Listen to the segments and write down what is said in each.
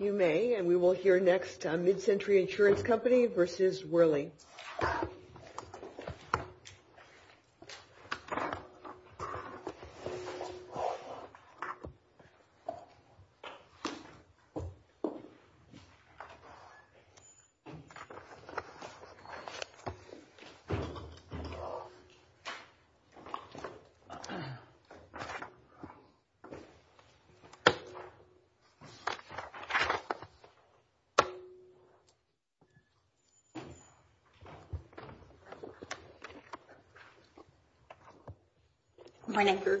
You may, and we will hear next on Mid-Century Insurance Company v. Werley.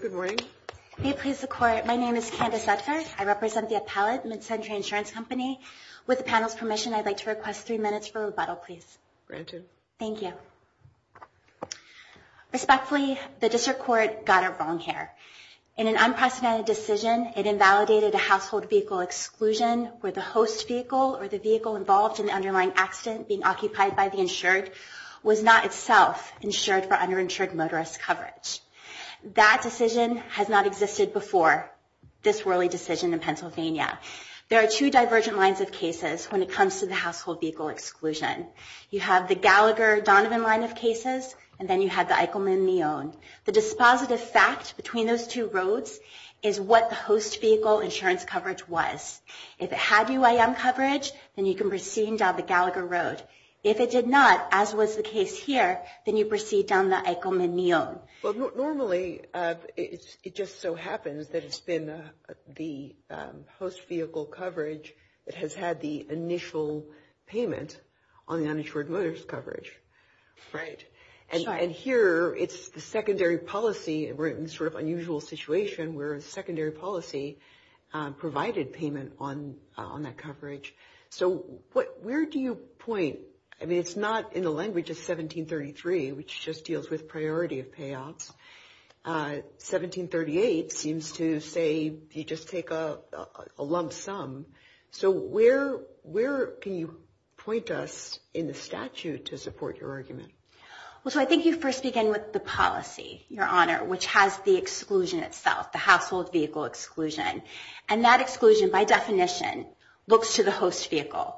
Good morning. May it please the Court, my name is Candace Udgar. I represent the appellate, Mid-Century Insurance Company. With the panel's permission, I'd like to request three minutes for rebuttal, please. Respectfully, the District Court got it wrong here. In an unprecedented decision, it invalidated a household vehicle exclusion where the host vehicle, or the vehicle involved in the underlying accident being occupied by the insured, was not itself insured for underinsured motorist coverage. That decision has not existed before this Werley decision in Pennsylvania. There are two divergent lines of cases when it comes to the household vehicle exclusion. You have the Gallagher-Donovan line of cases, and then you have the Eichelman-Neon. The dispositive fact between those two roads is what the host vehicle insurance coverage was. If it had UIM coverage, then you can proceed down the Gallagher Road. If it did not, as was the case here, then you proceed down the Eichelman-Neon. Well, normally it just so happens that it's been the host vehicle coverage that has had the initial payment on the secondary policy. We're in a sort of unusual situation where secondary policy provided payment on that coverage. So where do you point? I mean, it's not in the language of 1733, which just deals with priority of payouts. 1738 seems to say you just take a lump sum. So where can you point us in the statute to support your argument? Well, so I think you first begin with the policy, Your Honor, which has the exclusion itself, the household vehicle exclusion. And that exclusion, by definition, looks to the host vehicle.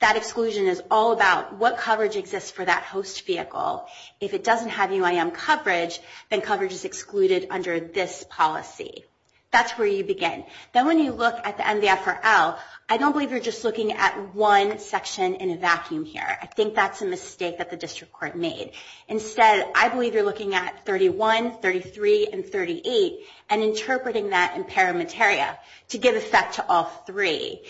That exclusion is all about what coverage exists for that host vehicle. If it doesn't have UIM coverage, then coverage is excluded under this policy. That's where you begin. Then when you look at the end of the FRL, I don't believe you're just looking at one section in a vacuum here. I think that's a mistake that the district court made. Instead, I believe you're looking at 31, 33, and 38 and interpreting that in pari materia to give effect to all three.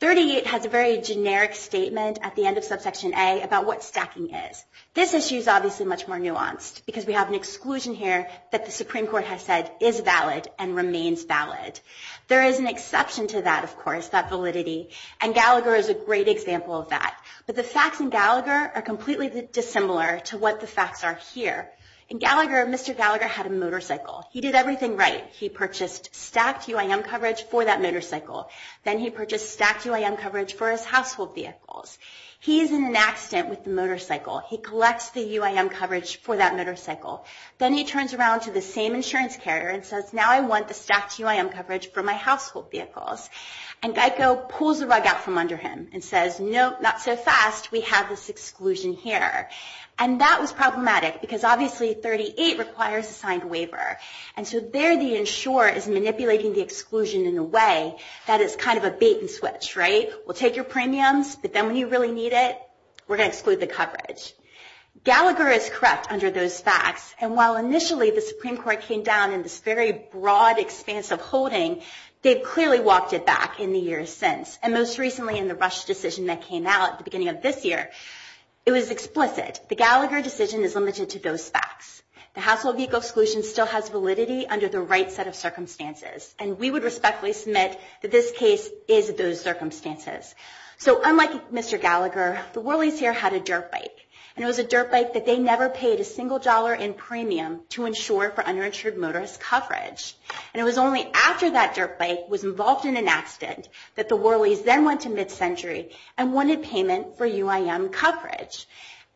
38 has a very generic statement at the end of subsection A about what stacking is. This issue is obviously much more nuanced because we have an exclusion here that the Supreme Court has said is valid and remains valid. There is an exception to that, of course, that validity, and Gallagher is a great example of that. But the facts in Gallagher are completely dissimilar to what the facts are here. In Gallagher, Mr. Gallagher had a motorcycle. He did everything right. He purchased stacked UIM coverage for that motorcycle. Then he purchased stacked UIM coverage for his household vehicles. He's in an accident with the motorcycle. He collects the UIM coverage for that motorcycle. Then he turns around to the same insurance carrier and says, Now I want the stacked UIM coverage for my household vehicles. Geico pulls the rug out from under him and says, Nope, not so fast. We have this exclusion here. That was problematic because obviously 38 requires a signed waiver. There the insurer is manipulating the exclusion in a way that is kind of a bait and switch. We'll take your premiums, but then when you really need it, we're going to exclude the coverage. Gallagher is correct under those facts. While initially the Supreme Court came down in this very broad expanse of holding, they've clearly walked it back in the years since. Most recently in the Rush decision that came out at the beginning of this year, it was explicit. The Gallagher decision is limited to those facts. The household vehicle exclusion still has validity under the right set of circumstances. We would respectfully submit that this case is those circumstances. Unlike Mr. Gallagher, the Whirleys here had a dirt bike. It was a dirt bike that they never paid a single dollar in premium to insure for underinsured motorist coverage. It was only after that dirt bike was involved in an accident that the Whirleys then went to mid-century and wanted payment for UIM coverage.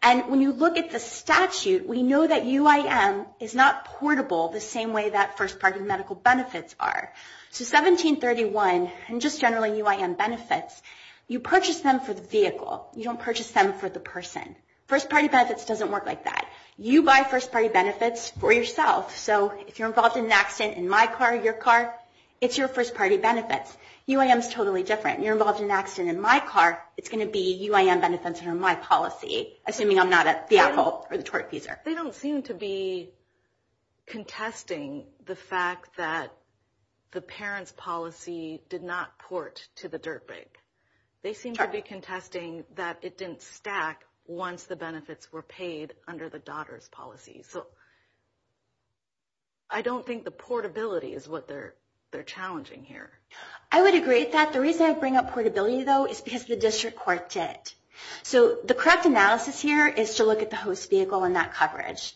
When you look at the statute, we know that UIM is not portable the same way that first party medical benefits are. 1731 and just generally UIM benefits, you purchase them for the vehicle. You don't purchase them for the person. First party benefits doesn't work like that. You buy first party benefits for yourself. So if you're involved in an accident in my car or your car, it's your first party benefits. UIM is totally different. You're involved in an accident in my car, it's going to be UIM benefits under my policy, assuming I'm not at the Apple or the Twerk user. They don't seem to be contesting the fact that the parent's policy did not port to the dirt bike. They seem to be contesting that it didn't stack once the benefits were paid under the daughter's policy. I don't think the portability is what they're challenging here. I would agree with that. The reason I bring up portability, though, is because the district court did. The correct analysis here is to look at the host vehicle and that coverage.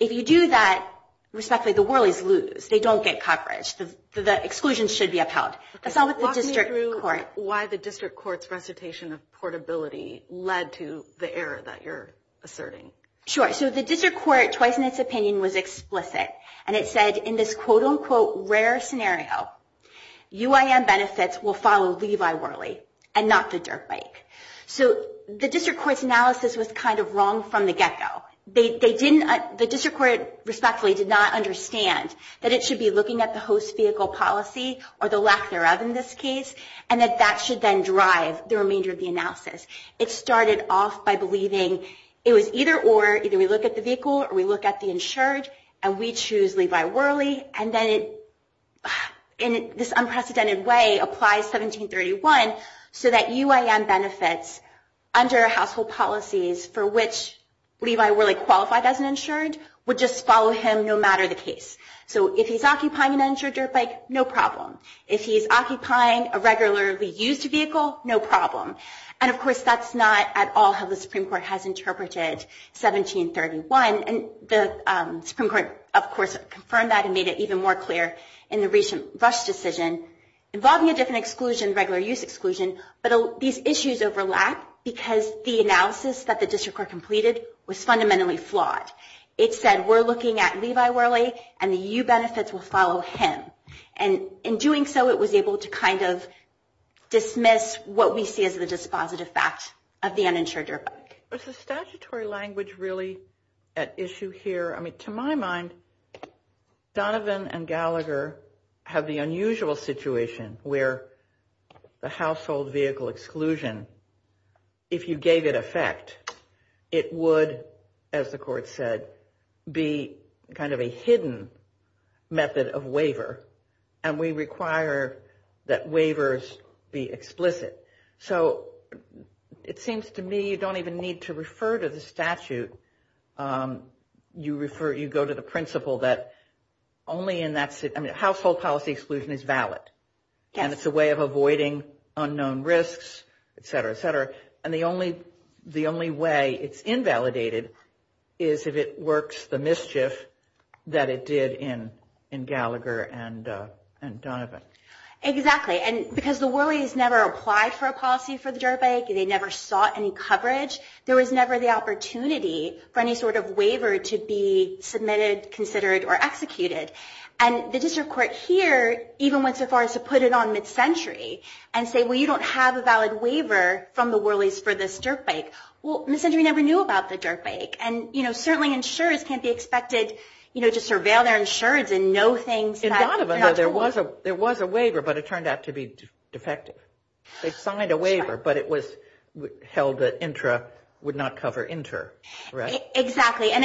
If you do that, respectfully, the Whirlies lose. They don't get coverage. The exclusions should be upheld. Walk me through why the district court's recitation of portability led to the error that you're asserting. The district court, twice in its opinion, was explicit. It said in this quote-unquote rare scenario, UIM benefits will follow Levi Whirly and not the dirt bike. The district court's analysis was kind of wrong from the get-go. The district court, respectfully, did not understand that it should be looking at the host vehicle policy, or the lack thereof in this case, and that that should then drive the remainder of the analysis. It started off by believing it was either or. Either we look at the vehicle or we look at the insured, and we choose Levi Whirly. This unprecedented way applies 1731 so that UIM benefits under household policies for which Levi Whirly qualified as an insured would just follow him no matter the case. If he's occupying an insured dirt bike, no problem. If he's occupying a regularly used vehicle, no problem. And, of course, that's not at all how the Supreme Court has interpreted 1731. And the Supreme Court, of course, confirmed that and made it even more clear in the recent Rush decision involving a different exclusion, regular use exclusion. But these issues overlap because the analysis that the district court completed was fundamentally flawed. It said we're looking at Levi Whirly, and the U benefits will follow him. And in doing so, it was able to kind of dismiss what we see as the dispositive fact of the uninsured dirt bike. Was the statutory language really at issue here? I mean, to my mind, Donovan and Gallagher have the unusual situation where the household vehicle exclusion, if you gave it effect, it would, as the court said, be kind of a hidden method of waiver. And we require that waivers be explicit. So it seems to me you don't even need to refer to the statute. You go to the principle that only in that household policy exclusion is valid. And it's a way of avoiding unknown risks, et cetera, et cetera. And the only way it's invalidated is if it works the mischief that it did in Gallagher and Donovan. Exactly. And because the Whirlys never applied for a policy for the dirt bike, they never sought any coverage, there was never the opportunity for any sort of waiver to be submitted, considered or executed. And the district court here even went so far as to put it on mid-century and say, well, you don't have a valid waiver from the Whirlys for this dirt bike. Well, mid-century never knew about the dirt bike. And, you know, certainly insurers can't be expected, you know, to surveil their insurance and know things that are not true. In Donovan, though, there was a waiver, but it turned out to be defective. They signed a waiver, but it was held that intra would not cover inter, right? Exactly. And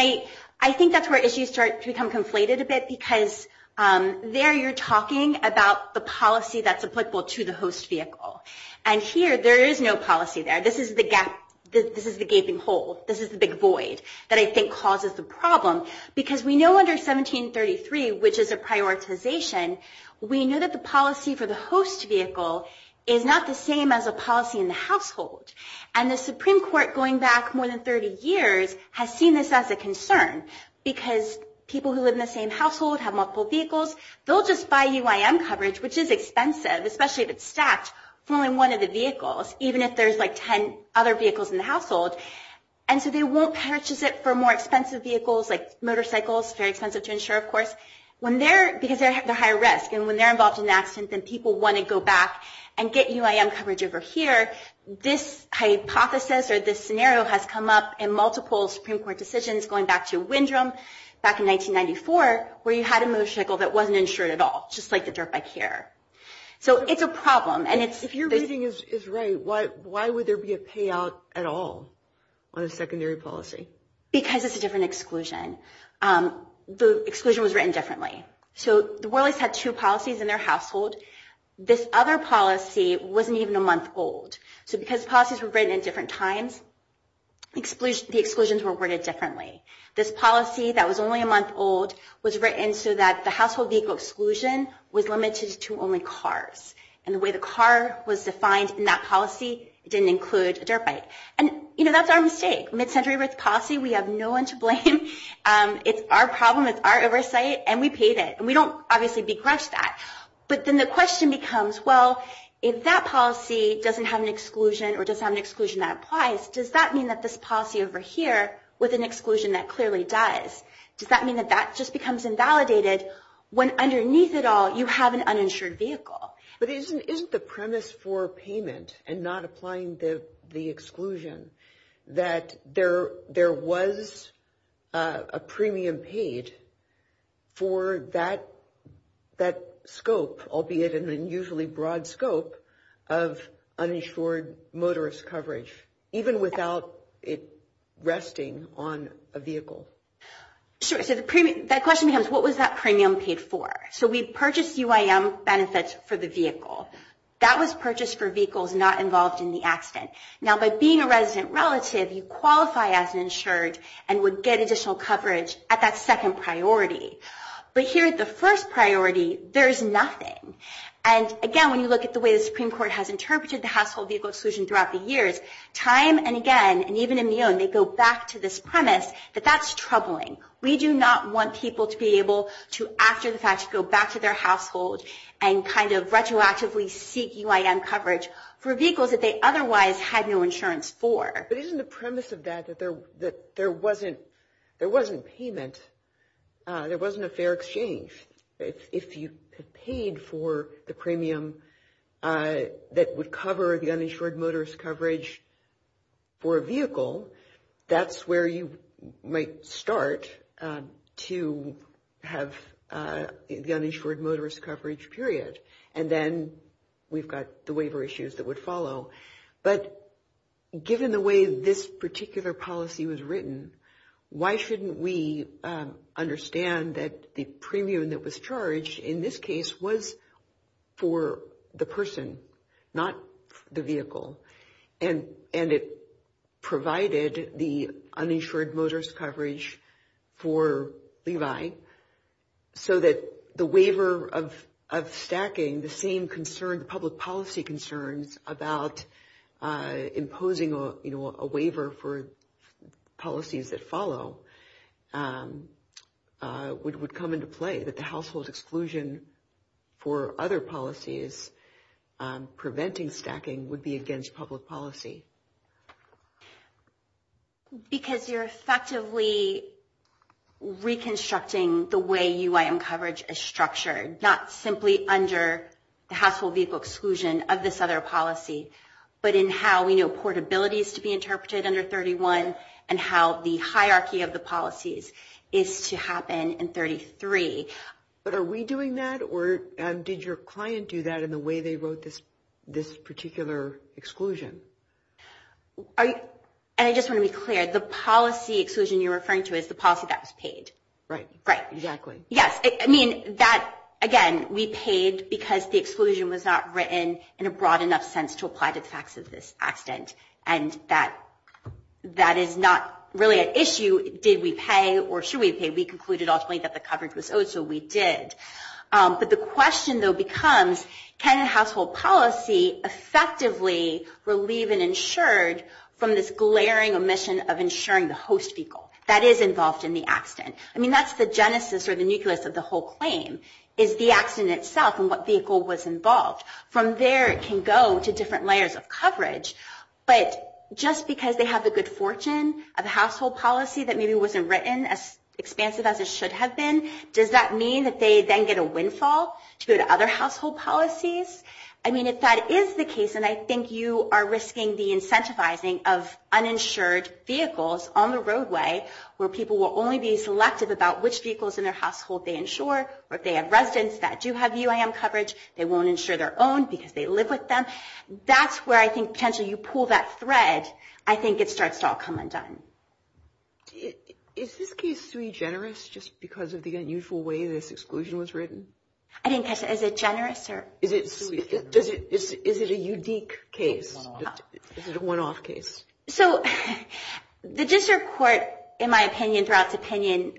I think that's where issues start to become conflated a bit, because there you're talking about the policy that's applicable to the host vehicle. And here there is no policy there. This is the gap. This is the gaping hole. This is the big void that I think causes the problem. Because we know under 1733, which is a prioritization, we know that the policy for the host vehicle is not the same as a policy in the household. And the Supreme Court, going back more than 30 years, has seen this as a concern, because people who live in the same household have multiple vehicles, they'll just buy UIM coverage, which is expensive, especially if it's stacked for only one of the vehicles, even if there's, like, 10 other vehicles in the household. And so they won't purchase it for more expensive vehicles, like motorcycles, very expensive to insure, of course, because they're higher risk. And when they're involved in an accident and people want to go back and get UIM coverage over here, this hypothesis or this scenario has come up in multiple Supreme Court decisions, going back to Windrum back in 1994, where you had a motorcycle that wasn't insured at all, just like the dirt bike here. So it's a problem. If your reading is right, why would there be a payout at all on a secondary policy? Because it's a different exclusion. The exclusion was written differently. So the Whirlies had two policies in their household. This other policy wasn't even a month old. So because policies were written at different times, the exclusions were worded differently. This policy that was only a month old was written so that the household vehicle exclusion was limited to only cars. And the way the car was defined in that policy, it didn't include a dirt bike. And, you know, that's our mistake. Mid-century risk policy, we have no one to blame. It's our problem. It's our oversight. And we paid it. And we don't, obviously, begrudge that. But then the question becomes, well, if that policy doesn't have an exclusion or doesn't have an exclusion that applies, does that mean that this policy over here with an exclusion that clearly does, does that mean that that just becomes invalidated when underneath it all you have an uninsured vehicle? But isn't the premise for payment and not applying the exclusion that there was a premium paid for that scope, albeit an unusually broad scope, of uninsured motorist coverage, even without it resting on a vehicle? Sure. So that question becomes, what was that premium paid for? So we purchased UIM benefits for the vehicle. That was purchased for vehicles not involved in the accident. Now, by being a resident relative, you qualify as insured and would get additional coverage at that second priority. But here at the first priority, there's nothing. And, again, when you look at the way the Supreme Court has interpreted the household vehicle exclusion throughout the years, time and again, and even in Mione, they go back to this premise that that's troubling. We do not want people to be able to, after the fact, go back to their household and kind of retroactively seek UIM coverage for vehicles that they otherwise had no insurance for. But isn't the premise of that that there wasn't payment, there wasn't a fair exchange? If you paid for the premium that would cover the uninsured motorist coverage for a vehicle, that's where you might start to have the uninsured motorist coverage, period. And then we've got the waiver issues that would follow. But given the way this particular policy was written, why shouldn't we understand that the premium that was charged in this case was for the person, not the vehicle, and it provided the uninsured motorist coverage for Levi so that the waiver of stacking, the same concern, the public policy concerns about imposing a waiver for policies that follow would come into play, that the household exclusion for other policies preventing stacking would be against public policy? Because you're effectively reconstructing the way UIM coverage is structured, not simply under the household vehicle exclusion of this other policy, but in how we know portability is to be interpreted under 31 and how the hierarchy of the policies is to happen in 33. But are we doing that, or did your client do that in the way they wrote this particular exclusion? And I just want to be clear, the policy exclusion you're referring to is the policy that was paid. Right, exactly. Yes, I mean, again, we paid because the exclusion was not written in a broad enough sense to apply to the facts of this accident. And that is not really an issue. Did we pay or should we pay? We concluded, ultimately, that the coverage was owed, so we did. But the question, though, becomes can a household policy effectively relieve an insured from this glaring omission of insuring the host vehicle that is involved in the accident? I mean, that's the genesis or the nucleus of the whole claim is the accident itself and what vehicle was involved. From there, it can go to different layers of coverage. But just because they have the good fortune of a household policy that maybe wasn't written as expansive as it should have been, does that mean that they then get a windfall to go to other household policies? I mean, if that is the case, and I think you are risking the incentivizing of uninsured vehicles on the roadway where people will only be selective about which vehicles in their household they insure, or if they have residents that do have UIM coverage, they won't insure their own because they live with them. That's where I think potentially you pull that thread. I think it starts to all come undone. Is this case sui generis just because of the unusual way this exclusion was written? I didn't catch that. Is it generous or? Is it a unique case? Is it a one-off case? So the district court, in my opinion, throughout its opinion,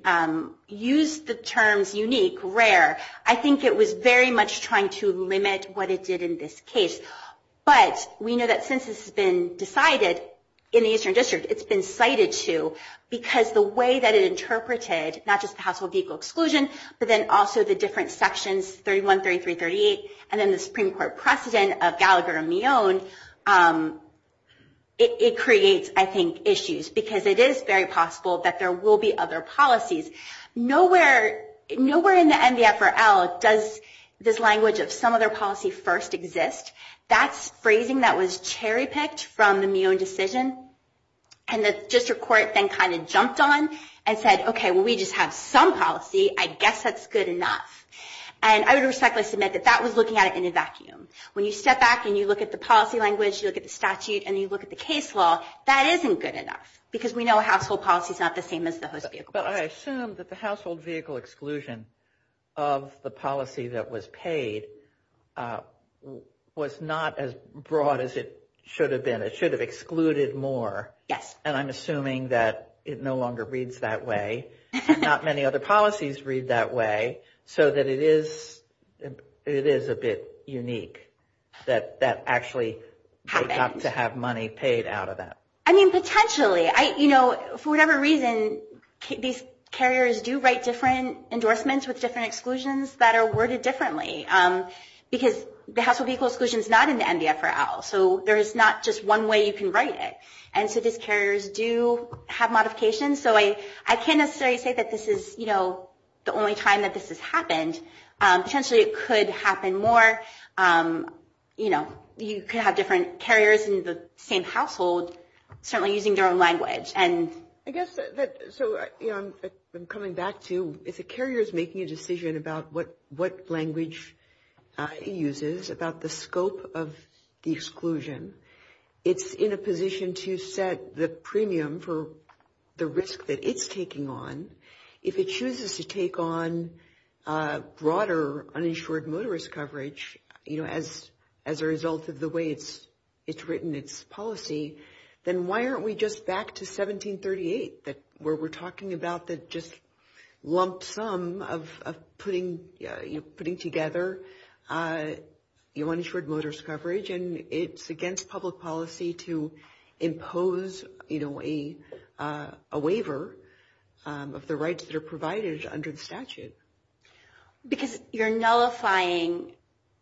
used the terms unique, rare. I think it was very much trying to limit what it did in this case. But we know that since this has been decided in the Eastern District, it's been cited too, because the way that it interpreted not just the household vehicle exclusion, but then also the different sections, 31, 33, 38, and then the Supreme Court precedent of Gallagher and Millon, it creates, I think, issues. Because it is very possible that there will be other policies. Nowhere in the NDFRL does this language of some other policy first exist. That's phrasing that was cherry-picked from the Millon decision. And the district court then kind of jumped on and said, okay, well, we just have some policy. I guess that's good enough. And I would respectfully submit that that was looking at it in a vacuum. When you step back and you look at the policy language, you look at the statute, and you look at the case law, that isn't good enough. Because we know household policy is not the same as the host vehicle policy. But I assume that the household vehicle exclusion of the policy that was paid was not as broad as it should have been. It should have excluded more. Yes. And I'm assuming that it no longer reads that way. And not many other policies read that way. So that it is a bit unique that that actually got to have money paid out of that. I mean, potentially. For whatever reason, these carriers do write different endorsements with different exclusions that are worded differently. Because the household vehicle exclusion is not in the NDFRL. So there is not just one way you can write it. And so these carriers do have modifications. So I can't necessarily say that this is, you know, the only time that this has happened. Potentially it could happen more. You know, you could have different carriers in the same household certainly using their own language. And I guess that so, you know, I'm coming back to, if a carrier is making a decision about what language it uses, about the scope of the exclusion, it's in a position to set the premium for the risk that it's taking on. If it chooses to take on broader uninsured motorist coverage, you know, as a result of the way it's written its policy, then why aren't we just back to 1738 where we're talking about the just lump sum of putting together uninsured motorist coverage? And it's against public policy to impose, you know, a waiver of the rights that are provided under the statute. Because you're nullifying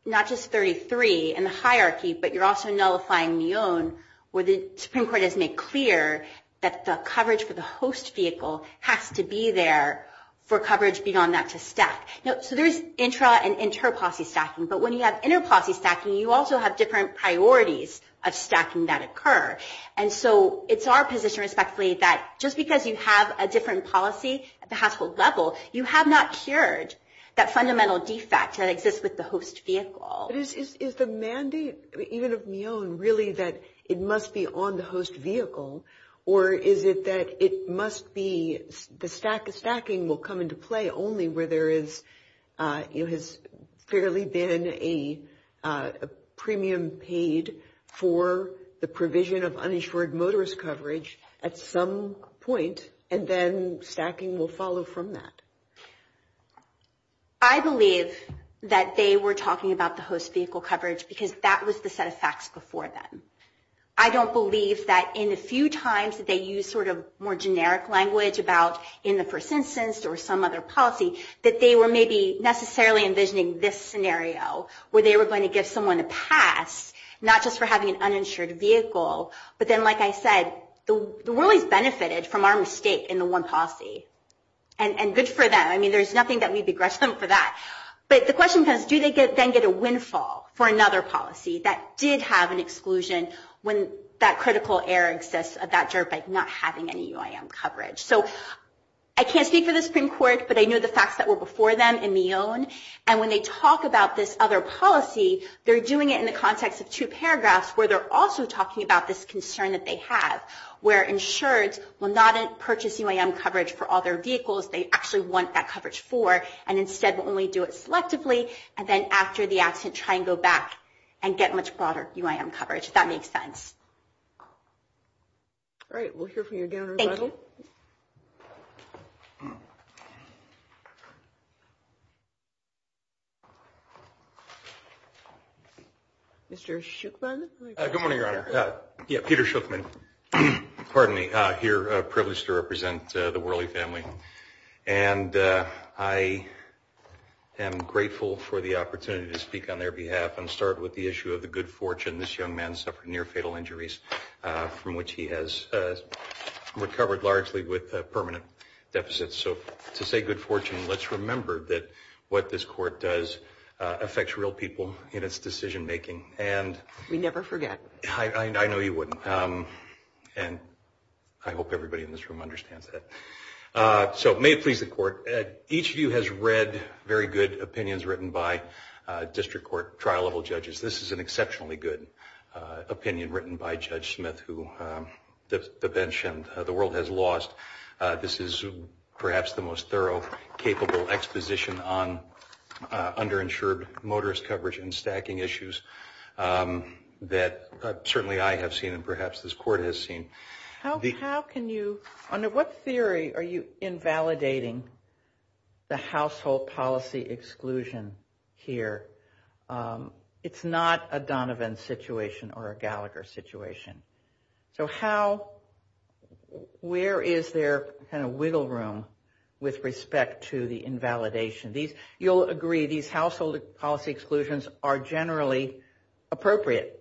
not just 33 in the hierarchy, but you're also nullifying Neone where the Supreme Court has made clear that the coverage for the host vehicle has to be there for coverage beyond that to stack. So there's intra- and inter-policy stacking. But when you have inter-policy stacking, you also have different priorities of stacking that occur. And so it's our position, respectfully, that just because you have a different policy at the household level, you have not cured that fundamental defect that exists with the host vehicle. Is the mandate even of Neone really that it must be on the host vehicle? Or is it that it must be the stacking will come into play only where there is, you know, has fairly been a premium paid for the provision of uninsured motorist coverage at some point, and then stacking will follow from that? I believe that they were talking about the host vehicle coverage because that was the set of facts before then. I don't believe that in the few times that they used sort of more generic language about in the first instance or some other policy, that they were maybe necessarily envisioning this scenario where they were going to give someone a pass, not just for having an uninsured vehicle. But then, like I said, the Whirleys benefited from our mistake in the one policy. And good for them. I mean, there's nothing that we begrudge them for that. But the question becomes, do they then get a windfall for another policy that did have an exclusion when that critical error exists of that dirt bike not having any UIM coverage? So I can't speak for the Supreme Court, but I know the facts that were before them in Neone. And when they talk about this other policy, they're doing it in the context of two paragraphs where they're also talking about this concern that they have, where insureds will not purchase UIM coverage for all their vehicles they actually want that coverage for, and instead will only do it selectively. And then after the accident, try and go back and get much broader UIM coverage, if that makes sense. All right. We'll hear from you again. Thank you. Mr. Schuchman? Good morning, Your Honor. Yeah, Peter Schuchman. Pardon me. I'm here privileged to represent the Whirley family. And I am grateful for the opportunity to speak on their behalf and start with the issue of the good fortune this young man suffered near fatal injuries from which he has recovered largely with permanent deficits. So to say good fortune, let's remember that what this court does affects real people in its decision making. We never forget. I know you wouldn't. And I hope everybody in this room understands that. So may it please the court, each of you has read very good opinions written by district court trial-level judges. This is an exceptionally good opinion written by Judge Smith, who the bench and the world has lost. This is perhaps the most thorough, capable exposition on underinsured motorist coverage and stacking issues that certainly I have seen and perhaps this court has seen. How can you, under what theory are you invalidating the household policy exclusion here? It's not a Donovan situation or a Gallagher situation. So how, where is there kind of wiggle room with respect to the invalidation? You'll agree these household policy exclusions are generally appropriate.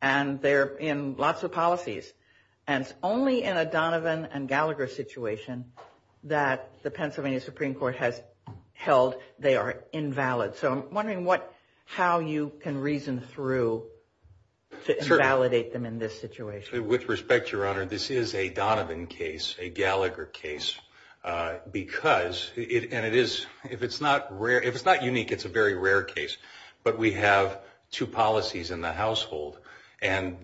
And they're in lots of policies. And it's only in a Donovan and Gallagher situation that the Pennsylvania Supreme Court has held they are invalid. So I'm wondering how you can reason through to invalidate them in this situation. With respect, Your Honor, this is a Donovan case, a Gallagher case. Because, and it is, if it's not rare, if it's not unique, it's a very rare case. But we have two policies in the household. And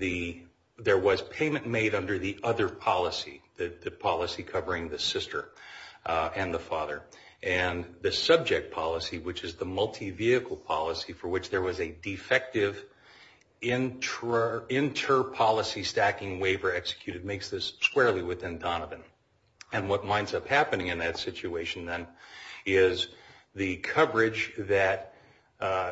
there was payment made under the other policy, the policy covering the sister and the father. And the subject policy, which is the multi-vehicle policy for which there was a defective inter-policy stacking waiver executed, makes this squarely within Donovan. And what winds up happening in that situation then is the coverage that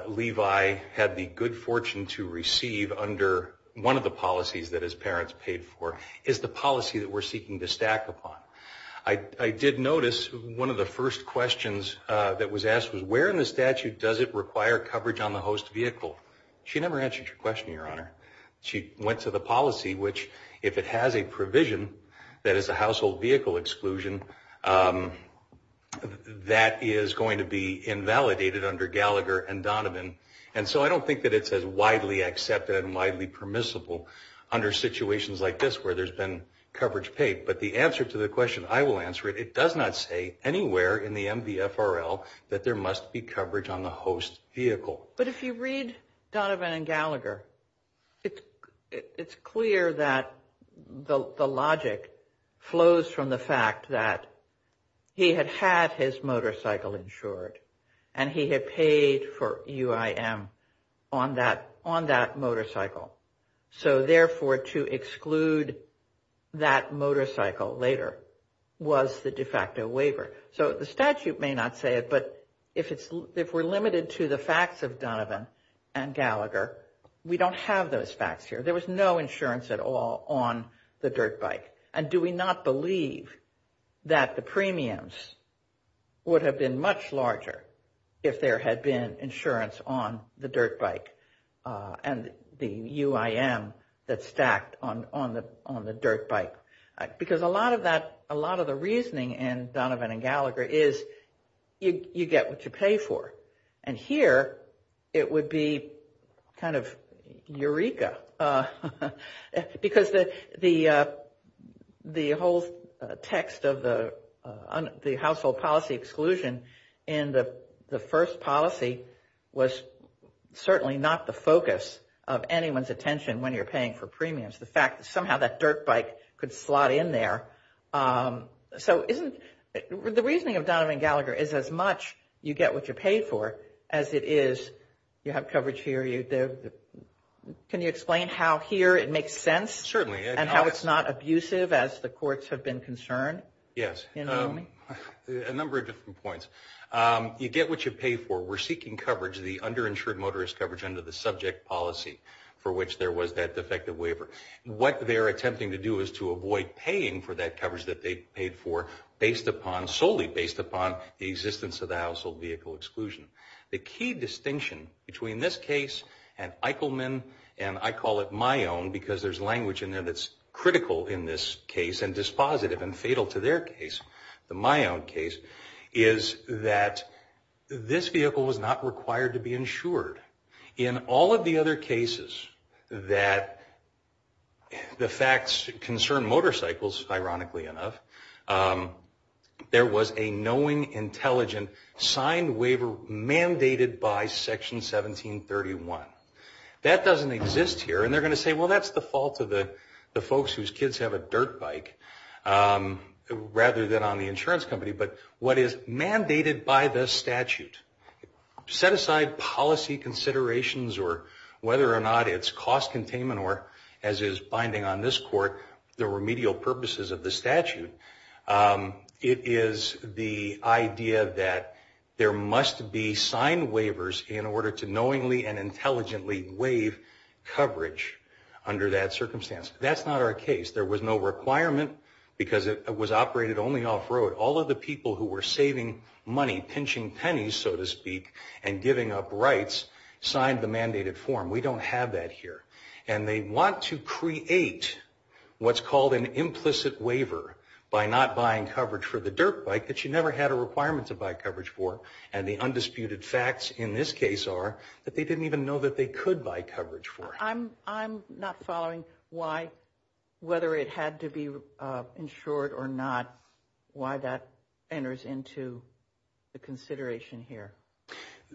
Levi had the good fortune to receive under one of the policies that his parents paid for is the policy that we're seeking to stack upon. I did notice one of the first questions that was asked was, where in the statute does it require coverage on the host vehicle? She never answered your question, Your Honor. She went to the policy, which, if it has a provision that is a household vehicle exclusion, that is going to be invalidated under Gallagher and Donovan. And so I don't think that it's as widely accepted and widely permissible under situations like this where there's been coverage paid. But the answer to the question, I will answer it. It does not say anywhere in the MVFRL that there must be coverage on the host vehicle. But if you read Donovan and Gallagher, it's clear that the logic flows from the fact that he had had his motorcycle insured and he had paid for UIM on that motorcycle. So, therefore, to exclude that motorcycle later was the de facto waiver. So the statute may not say it, but if we're limited to the facts of Donovan and Gallagher, we don't have those facts here. There was no insurance at all on the dirt bike. And do we not believe that the premiums would have been much larger if there had been insurance on the dirt bike and the UIM that's stacked on the dirt bike? Because a lot of the reasoning in Donovan and Gallagher is you get what you pay for. And here it would be kind of eureka because the whole text of the household policy exclusion in the first policy was certainly not the focus of anyone's attention when you're paying for premiums. It's the fact that somehow that dirt bike could slot in there. So the reasoning of Donovan and Gallagher is as much you get what you pay for as it is you have coverage here. Can you explain how here it makes sense? Certainly. And how it's not abusive as the courts have been concerned? Yes. You know what I mean? A number of different points. You get what you pay for. We're seeking coverage, the underinsured motorist coverage under the subject policy for which there was that defective waiver. What they're attempting to do is to avoid paying for that coverage that they paid for based upon, solely based upon the existence of the household vehicle exclusion. The key distinction between this case and Eichelman and I call it my own because there's language in there that's critical in this case and dispositive and fatal to their case, my own case, is that this vehicle was not required to be insured. In all of the other cases that the facts concern motorcycles, ironically enough, there was a knowing, intelligent, signed waiver mandated by Section 1731. That doesn't exist here. And they're going to say, well, that's the fault of the folks whose kids have a dirt bike rather than on the insurance company. But what is mandated by the statute, set aside policy considerations or whether or not it's cost containment or, as is binding on this court, the remedial purposes of the statute, it is the idea that there must be signed waivers in order to knowingly and intelligently waive coverage under that circumstance. That's not our case. There was no requirement because it was operated only off-road. All of the people who were saving money, pinching pennies, so to speak, and giving up rights signed the mandated form. We don't have that here. And they want to create what's called an implicit waiver by not buying coverage for the dirt bike that you never had a requirement to buy coverage for. And the undisputed facts in this case are that they didn't even know that they could buy coverage for it. I'm not following why, whether it had to be insured or not, why that enters into the consideration here.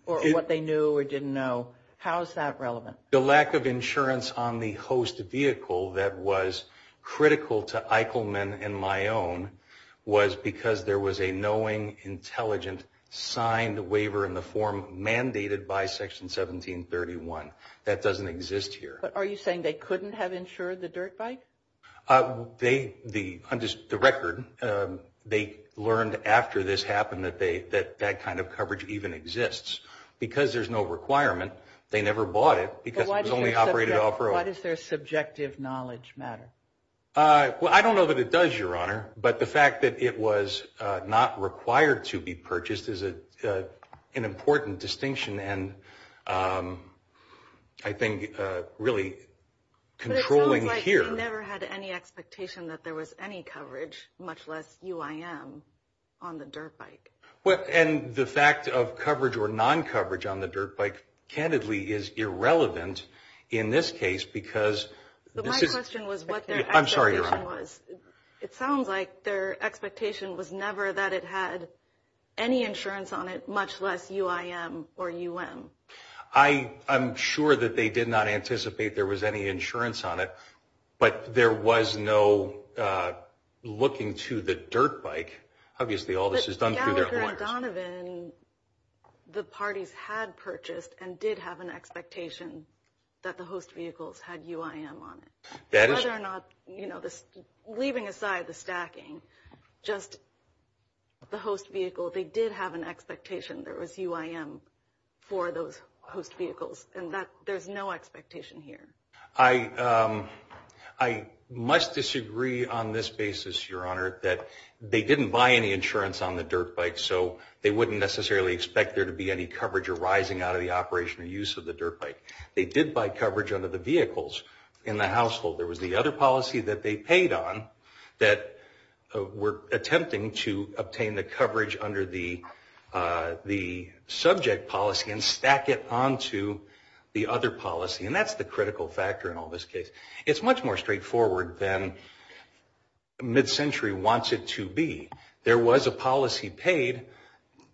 Or what they knew or didn't know. How is that relevant? The lack of insurance on the host vehicle that was critical to Eichelman and my own was because there was a knowing, intelligent, signed waiver in the form mandated by Section 1731. That doesn't exist here. But are you saying they couldn't have insured the dirt bike? The record, they learned after this happened that that kind of coverage even exists. Because there's no requirement, they never bought it because it was only operated off road. Why does their subjective knowledge matter? Well, I don't know that it does, Your Honor. But the fact that it was not required to be purchased is an important distinction, and I think really controlling here. But it sounds like you never had any expectation that there was any coverage, much less UIM, on the dirt bike. Well, and the fact of coverage or non-coverage on the dirt bike, candidly, is irrelevant in this case because... But my question was what their expectation was. I'm sorry, Your Honor. It sounds like their expectation was never that it had any insurance on it, much less UIM or UM. I'm sure that they did not anticipate there was any insurance on it, but there was no looking to the dirt bike. Obviously, all this is done through their lawyers. But Gallagher and Donovan, the parties had purchased and did have an expectation that the host vehicles had UIM on it. Whether or not, leaving aside the stacking, just the host vehicle, they did have an expectation there was UIM for those host vehicles, and there's no expectation here. I must disagree on this basis, Your Honor, that they didn't buy any insurance on the dirt bike, so they wouldn't necessarily expect there to be any coverage arising out of the operation or use of the dirt bike. They did buy coverage under the vehicles in the household. There was the other policy that they paid on that we're attempting to obtain the coverage under the subject policy and stack it onto the other policy, and that's the critical factor in all this case. It's much more straightforward than mid-century wants it to be. There was a policy paid.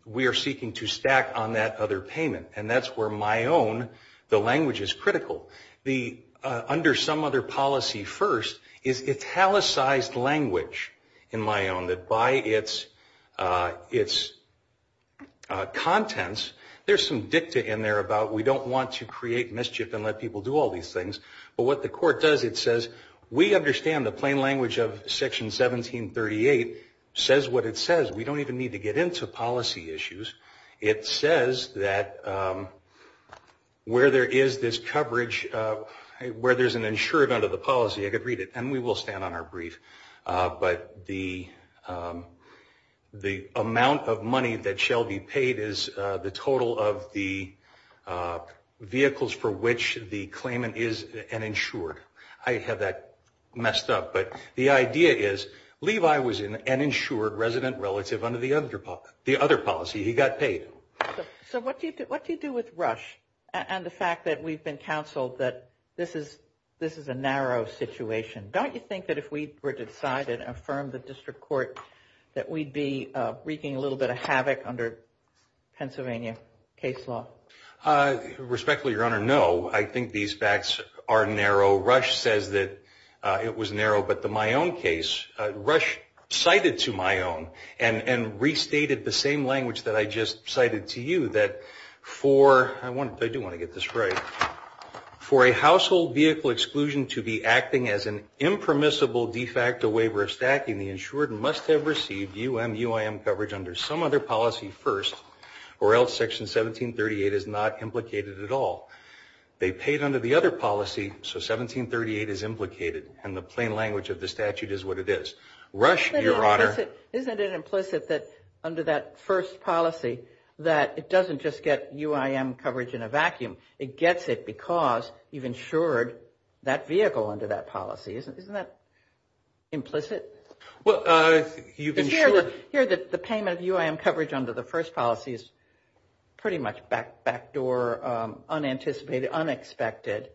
We are seeking to stack on that other payment, and that's where my own, the language is critical. Under some other policy first is italicized language in my own that by its contents, there's some dicta in there about we don't want to create mischief and let people do all these things. But what the court does, it says, we understand the plain language of Section 1738 says what it says. We don't even need to get into policy issues. It says that where there is this coverage, where there's an insured under the policy, I could read it, and we will stand on our brief, but the amount of money that shall be paid is the total of the vehicles for which the claimant is an insured. I have that messed up, but the idea is Levi was an insured resident relative under the other policy. He got paid. So what do you do with Rush and the fact that we've been counseled that this is a narrow situation? Don't you think that if we were to decide and affirm the district court that we'd be wreaking a little bit of havoc under Pennsylvania case law? Respectfully, Your Honor, no. I think these facts are narrow. Rush says that it was narrow, but the Mayon case, Rush cited to Mayon and restated the same language that I just cited to you that for, I do want to get this right, for a household vehicle exclusion to be acting as an impermissible de facto waiver of stacking, the insured must have received UMUIM coverage under some other policy first, or else Section 1738 is not implicated at all. They paid under the other policy, so 1738 is implicated, and the plain language of the statute is what it is. Rush, Your Honor. Isn't it implicit that under that first policy that it doesn't just get UIM coverage in a vacuum. It gets it because you've insured that vehicle under that policy. Isn't that implicit? Well, you've insured. Here, the payment of UIM coverage under the first policy is pretty much backdoor, unanticipated, unexpected.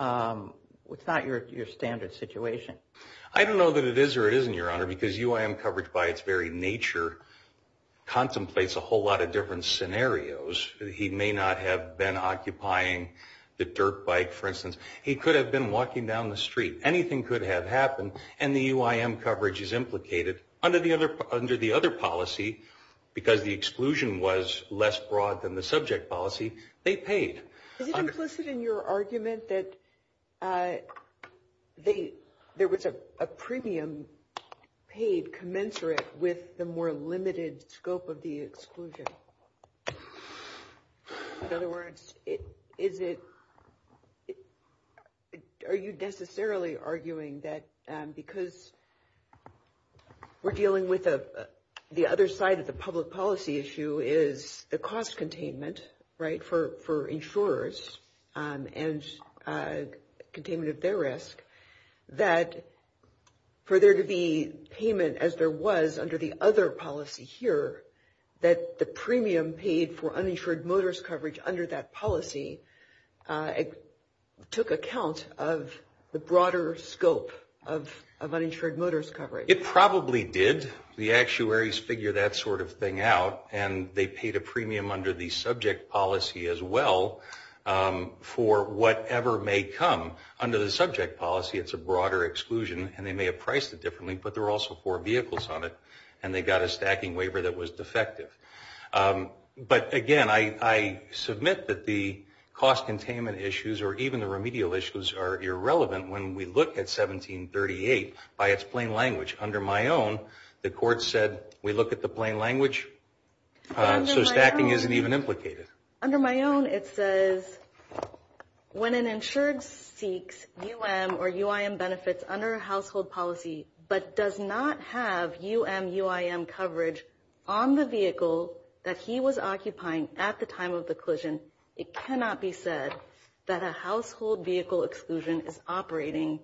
It's not your standard situation. I don't know that it is or isn't, Your Honor, because UIM coverage by its very nature contemplates a whole lot of different scenarios. He may not have been occupying the dirt bike, for instance. He could have been walking down the street. Anything could have happened, and the UIM coverage is implicated under the other policy because the exclusion was less broad than the subject policy. They paid. Is it implicit in your argument that there was a premium paid commensurate with the more limited scope of the exclusion? In other words, are you necessarily arguing that because we're dealing with the other side of the public policy issue is the cost containment, right, for insurers and containment of their risk, that for there to be payment as there was under the other policy here, that the premium paid for uninsured motorist coverage under that policy took account of the broader scope of uninsured motorist coverage? It probably did. The actuaries figure that sort of thing out, and they paid a premium under the subject policy as well for whatever may come. Under the subject policy, it's a broader exclusion, and they may have priced it differently, but there were also four vehicles on it, and they got a stacking waiver that was defective. But again, I submit that the cost containment issues or even the remedial issues are irrelevant when we look at 1738 by its plain language. Under my own, the court said we look at the plain language, so stacking isn't even implicated. Under my own, it says when an insured seeks UM or UIM benefits under a household policy but does not have UM UIM coverage on the vehicle that he was occupying at the time of the collision, it cannot be said that a household vehicle exclusion is operating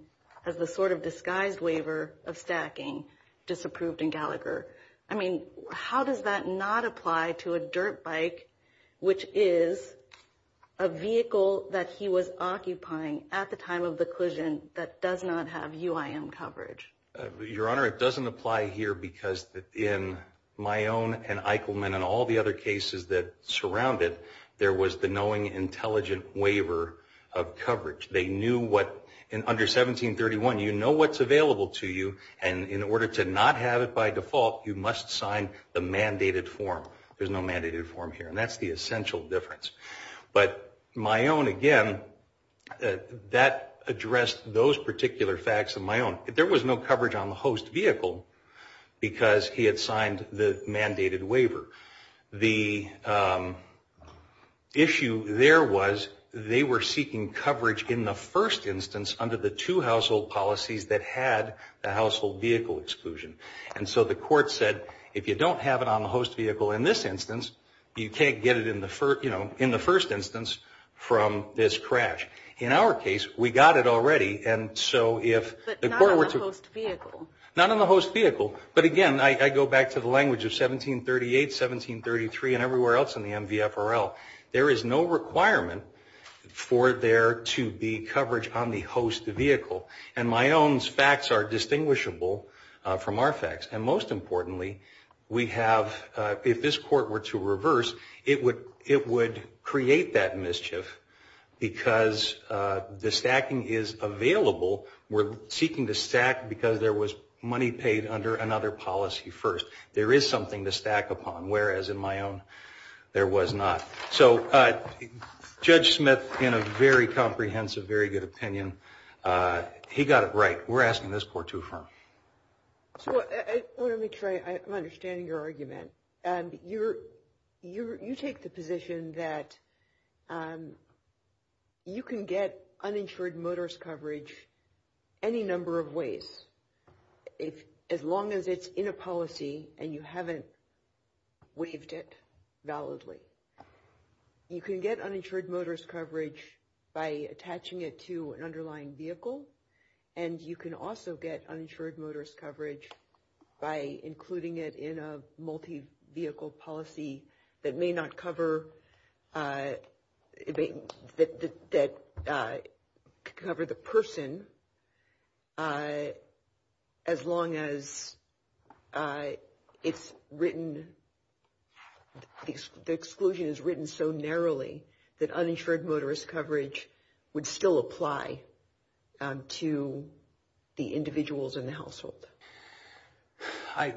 as the sort of disguised waiver of stacking disapproved in Gallagher. I mean, how does that not apply to a dirt bike, which is a vehicle that he was occupying at the time of the collision that does not have UIM coverage? Your Honor, it doesn't apply here because in my own and Eichelman and all the other cases that surround it, there was the knowing intelligent waiver of coverage. They knew what, under 1731, you know what's available to you, and in order to not have it by default, you must sign the mandated form. There's no mandated form here, and that's the essential difference. But my own, again, that addressed those particular facts of my own. There was no coverage on the host vehicle because he had signed the mandated waiver. The issue there was they were seeking coverage in the first instance under the two household policies that had the household vehicle exclusion. And so the court said, if you don't have it on the host vehicle in this instance, you can't get it in the first instance from this crash. In our case, we got it already, and so if the court were to- But not on the host vehicle. Not on the host vehicle. But again, I go back to the language of 1738, 1733, and everywhere else in the MVFRL. There is no requirement for there to be coverage on the host vehicle, and my own's facts are distinguishable from our facts. And most importantly, if this court were to reverse, it would create that mischief because the stacking is available. We're seeking to stack because there was money paid under another policy first. There is something to stack upon, whereas in my own, there was not. So Judge Smith, in a very comprehensive, very good opinion, he got it right. We're asking this court to affirm. So I want to make sure I'm understanding your argument. You take the position that you can get uninsured motorist coverage any number of ways, as long as it's in a policy and you haven't waived it validly. You can get uninsured motorist coverage by attaching it to an underlying vehicle, and you can also get uninsured motorist coverage by including it in a multi-vehicle policy that may not cover- that uninsured motorist coverage would still apply to the individuals in the household.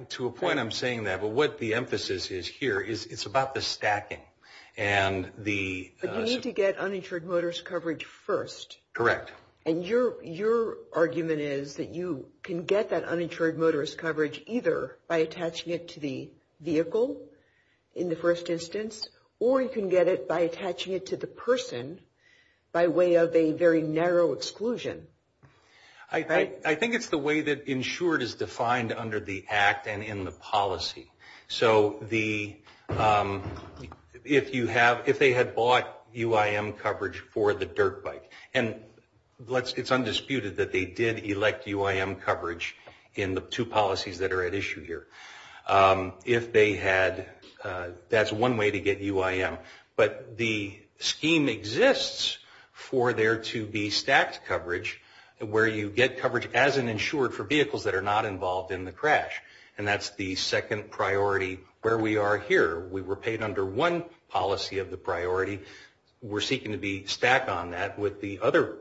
To a point, I'm saying that, but what the emphasis is here is it's about the stacking. But you need to get uninsured motorist coverage first. Correct. And your argument is that you can get that uninsured motorist coverage either by attaching it to the vehicle in the first instance or you can get it by attaching it to the person by way of a very narrow exclusion. I think it's the way that insured is defined under the Act and in the policy. So if they had bought UIM coverage for the dirt bike, and it's undisputed that they did elect UIM coverage in the two policies that are at issue here. If they had, that's one way to get UIM. But the scheme exists for there to be stacked coverage where you get coverage as an insured for vehicles that are not involved in the crash. And that's the second priority where we are here. We were paid under one policy of the priority. We're seeking to be stacked on that with the other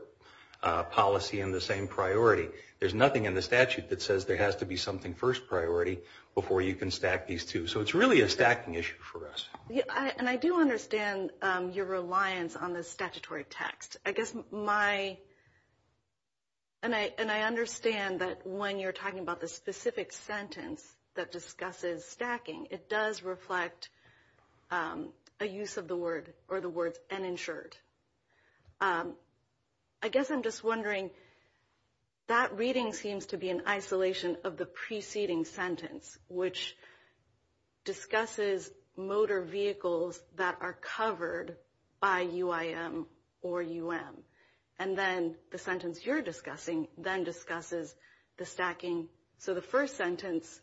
policy in the same priority. There's nothing in the statute that says there has to be something first priority before you can stack these two. So it's really a stacking issue for us. And I do understand your reliance on the statutory text. I guess my, and I understand that when you're talking about the specific sentence that discusses stacking, it does reflect a use of the word or the words uninsured. I guess I'm just wondering, that reading seems to be in isolation of the preceding sentence, which discusses motor vehicles that are covered by UIM or UM. And then the sentence you're discussing then discusses the stacking. So the first sentence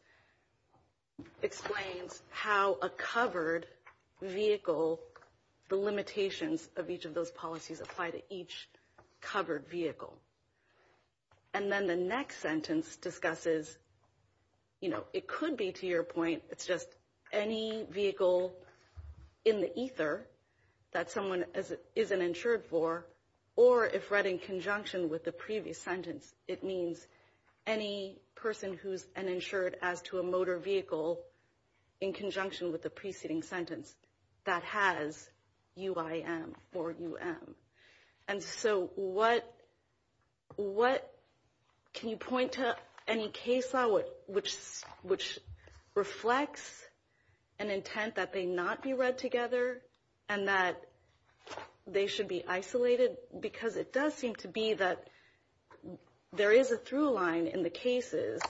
explains how a covered vehicle, the limitations of each of those policies apply to each covered vehicle. And then the next sentence discusses, you know, it could be to your point, it's just any vehicle in the ether that someone isn't insured for, or if read in conjunction with the previous sentence, it means any person who's uninsured as to a motor vehicle in conjunction with the preceding sentence that has UIM or UM. And so what, can you point to any case law which reflects an intent that they not be read together and that they should be isolated? Because it does seem to be that there is a through line in the cases,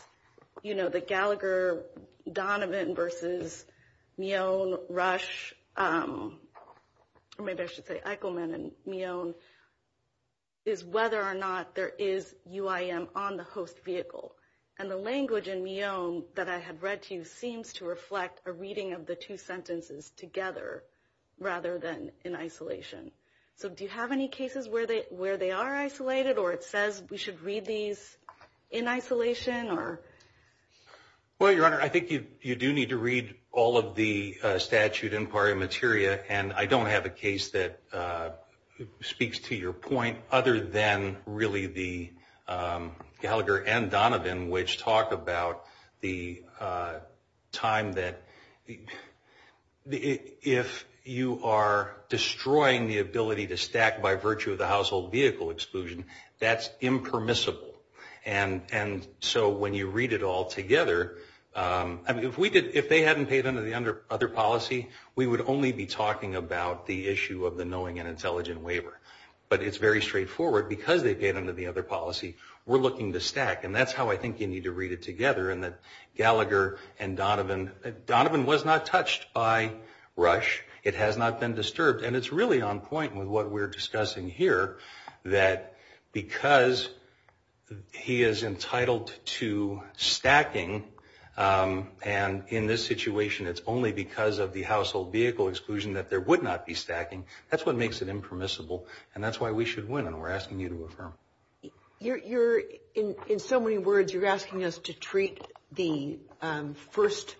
you know, the Gallagher-Donovan versus Mion-Rush, or maybe I should say Eichelman and Mion, is whether or not there is UIM on the host vehicle. And the language in Mion that I had read to you seems to reflect a reading of the two sentences together rather than in isolation. So do you have any cases where they are isolated or it says we should read these in isolation? Well, Your Honor, I think you do need to read all of the statute in paria materia, and I don't have a case that speaks to your point other than really the Gallagher and Donovan, which talk about the time that if you are destroying the ability to stack by virtue of the household vehicle exclusion, that's impermissible. And so when you read it all together, if they hadn't paid under the other policy, we would only be talking about the issue of the knowing and intelligent waiver. But it's very straightforward. Because they paid under the other policy, we're looking to stack, and that's how I think you need to read it together in that Gallagher and Donovan. Donovan was not touched by Rush. It has not been disturbed. And it's really on point with what we're discussing here, that because he is entitled to stacking, and in this situation it's only because of the household vehicle exclusion that there would not be stacking, that's what makes it impermissible. And that's why we should win, and we're asking you to affirm. You're, in so many words, you're asking us to treat the first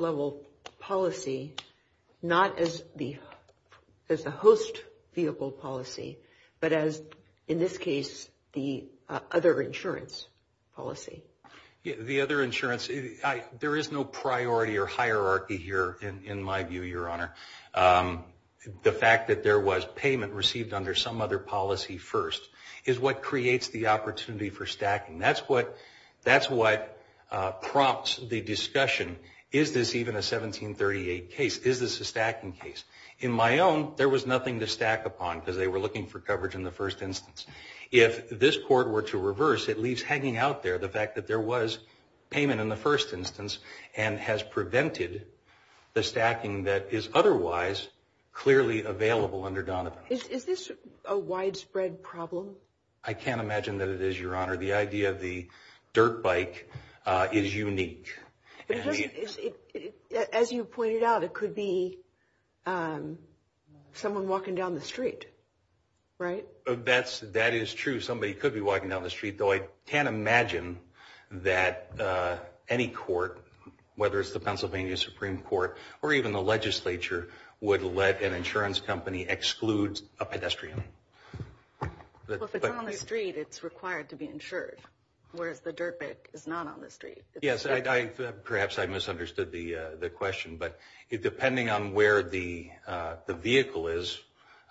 level policy not as the host vehicle policy, but as, in this case, the other insurance policy. The other insurance, there is no priority or hierarchy here in my view, Your Honor. The fact that there was payment received under some other policy first is what creates the opportunity for stacking. That's what prompts the discussion. Is this even a 1738 case? Is this a stacking case? In my own, there was nothing to stack upon because they were looking for coverage in the first instance. If this court were to reverse, it leaves hanging out there the fact that there was payment in the first instance and has prevented the stacking that is otherwise clearly available under Donovan. Is this a widespread problem? I can't imagine that it is, Your Honor. The idea of the dirt bike is unique. As you pointed out, it could be someone walking down the street, right? That is true. Somebody could be walking down the street, though I can't imagine that any court, whether it's the Pennsylvania Supreme Court or even the legislature, would let an insurance company exclude a pedestrian. Well, if it's on the street, it's required to be insured, whereas the dirt bike is not on the street. Yes, perhaps I misunderstood the question, but depending on where the vehicle is,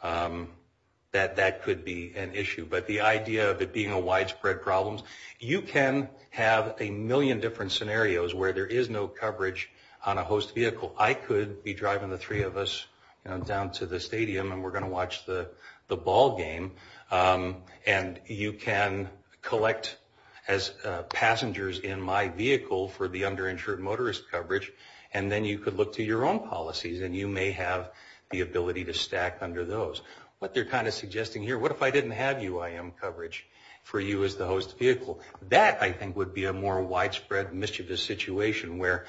that could be an issue. But the idea of it being a widespread problem, you can have a million different scenarios where there is no coverage on a host vehicle. I could be driving the three of us down to the stadium, and we're going to watch the ball game, and you can collect as passengers in my vehicle for the underinsured motorist coverage, and then you could look to your own policies, and you may have the ability to stack under those. What they're kind of suggesting here, what if I didn't have UIM coverage for you as the host vehicle? That, I think, would be a more widespread mischievous situation where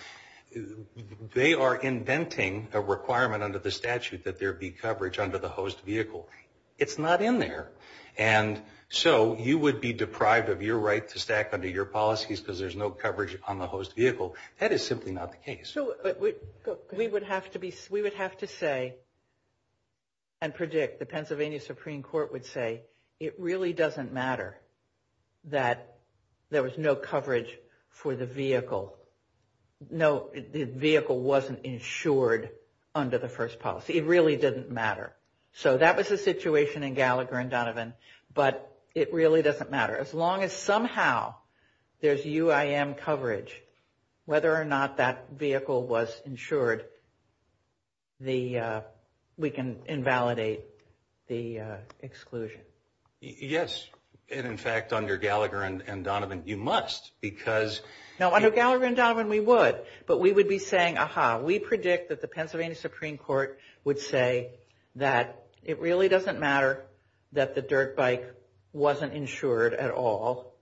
they are inventing a requirement under the statute that there be coverage under the host vehicle. It's not in there, and so you would be deprived of your right to stack under your policies because there's no coverage on the host vehicle. That is simply not the case. We would have to say and predict, the Pennsylvania Supreme Court would say, it really doesn't matter that there was no coverage for the vehicle. No, the vehicle wasn't insured under the first policy. It really didn't matter. So that was the situation in Gallagher and Donovan, but it really doesn't matter. As long as somehow there's UIM coverage, whether or not that vehicle was insured, we can invalidate the exclusion. Yes, and in fact, under Gallagher and Donovan, you must because... No, under Gallagher and Donovan, we would, but we would be saying, ah-ha, we predict that the Pennsylvania Supreme Court would say that it really doesn't matter that the dirt bike wasn't insured at all.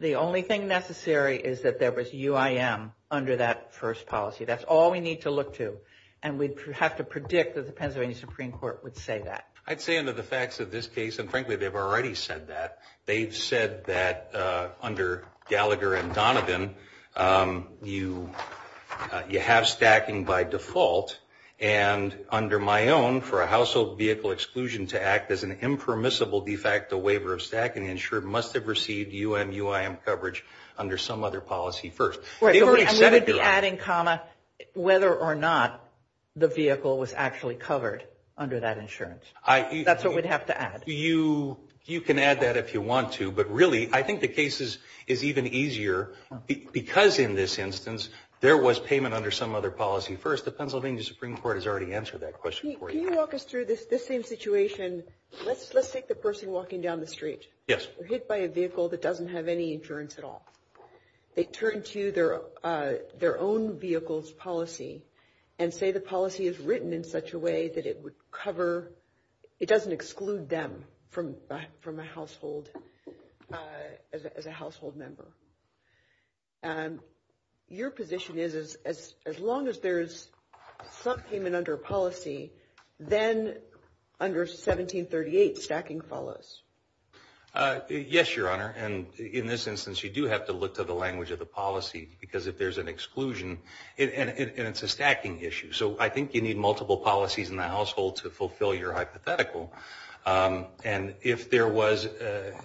The only thing necessary is that there was UIM under that first policy. That's all we need to look to, and we'd have to predict that the Pennsylvania Supreme Court would say that. I'd say under the facts of this case, and frankly, they've already said that, they've said that under Gallagher and Donovan, you have stacking by default, and under my own, for a household vehicle exclusion to act as an impermissible de facto waiver of stacking, the insured must have received UMUIM coverage under some other policy first. They've already said it. We would be adding comma whether or not the vehicle was actually covered under that insurance. That's what we'd have to add. You can add that if you want to, but really, I think the case is even easier because in this instance, there was payment under some other policy first. The Pennsylvania Supreme Court has already answered that question for you. Can you walk us through this same situation? Let's take the person walking down the street. Yes. They're hit by a vehicle that doesn't have any insurance at all. They turn to their own vehicle's policy and say the policy is written in such a way that it doesn't exclude them as a household member. Your position is as long as there's some payment under policy, then under 1738, stacking follows. Yes, Your Honor, and in this instance, you do have to look to the language of the policy because if there's an exclusion, and it's a stacking issue, so I think you need multiple policies in the household to fulfill your hypothetical. If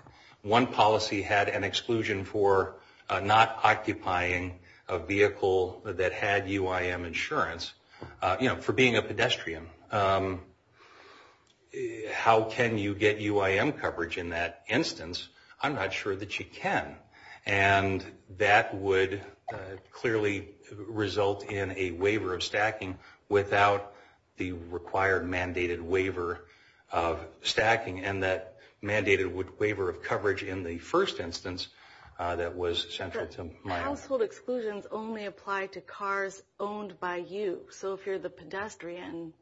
one policy had an exclusion for not occupying a vehicle that had UIM insurance, for being a pedestrian, how can you get UIM coverage in that instance? I'm not sure that you can, and that would clearly result in a waiver of stacking without the required mandated waiver of stacking, and that mandated waiver of coverage in the first instance that was central to my argument. But household exclusions only apply to cars owned by you, so if you're the pedestrian,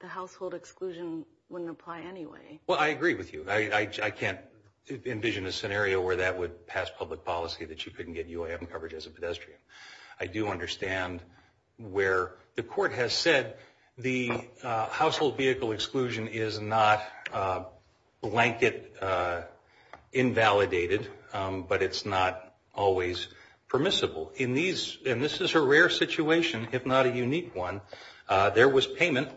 the household exclusion wouldn't apply anyway. Well, I agree with you. I can't envision a scenario where that would pass public policy that you couldn't get UIM coverage as a pedestrian. I do understand where the court has said the household vehicle exclusion is not blanket invalidated, but it's not always permissible. And this is a rare situation, if not a unique one. There was payment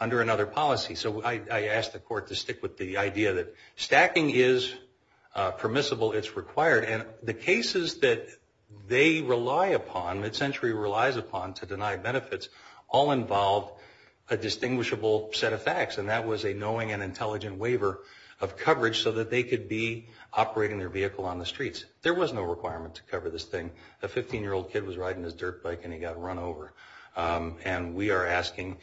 under another policy, so I ask the court to stick with the idea that stacking is permissible, it's required, and the cases that they rely upon, MidCentury relies upon to deny benefits, all involve a distinguishable set of facts, and that was a knowing and intelligent waiver of coverage so that they could be operating their vehicle on the streets. There was no requirement to cover this thing. A 15-year-old kid was riding his dirt bike and he got run over, and we are asking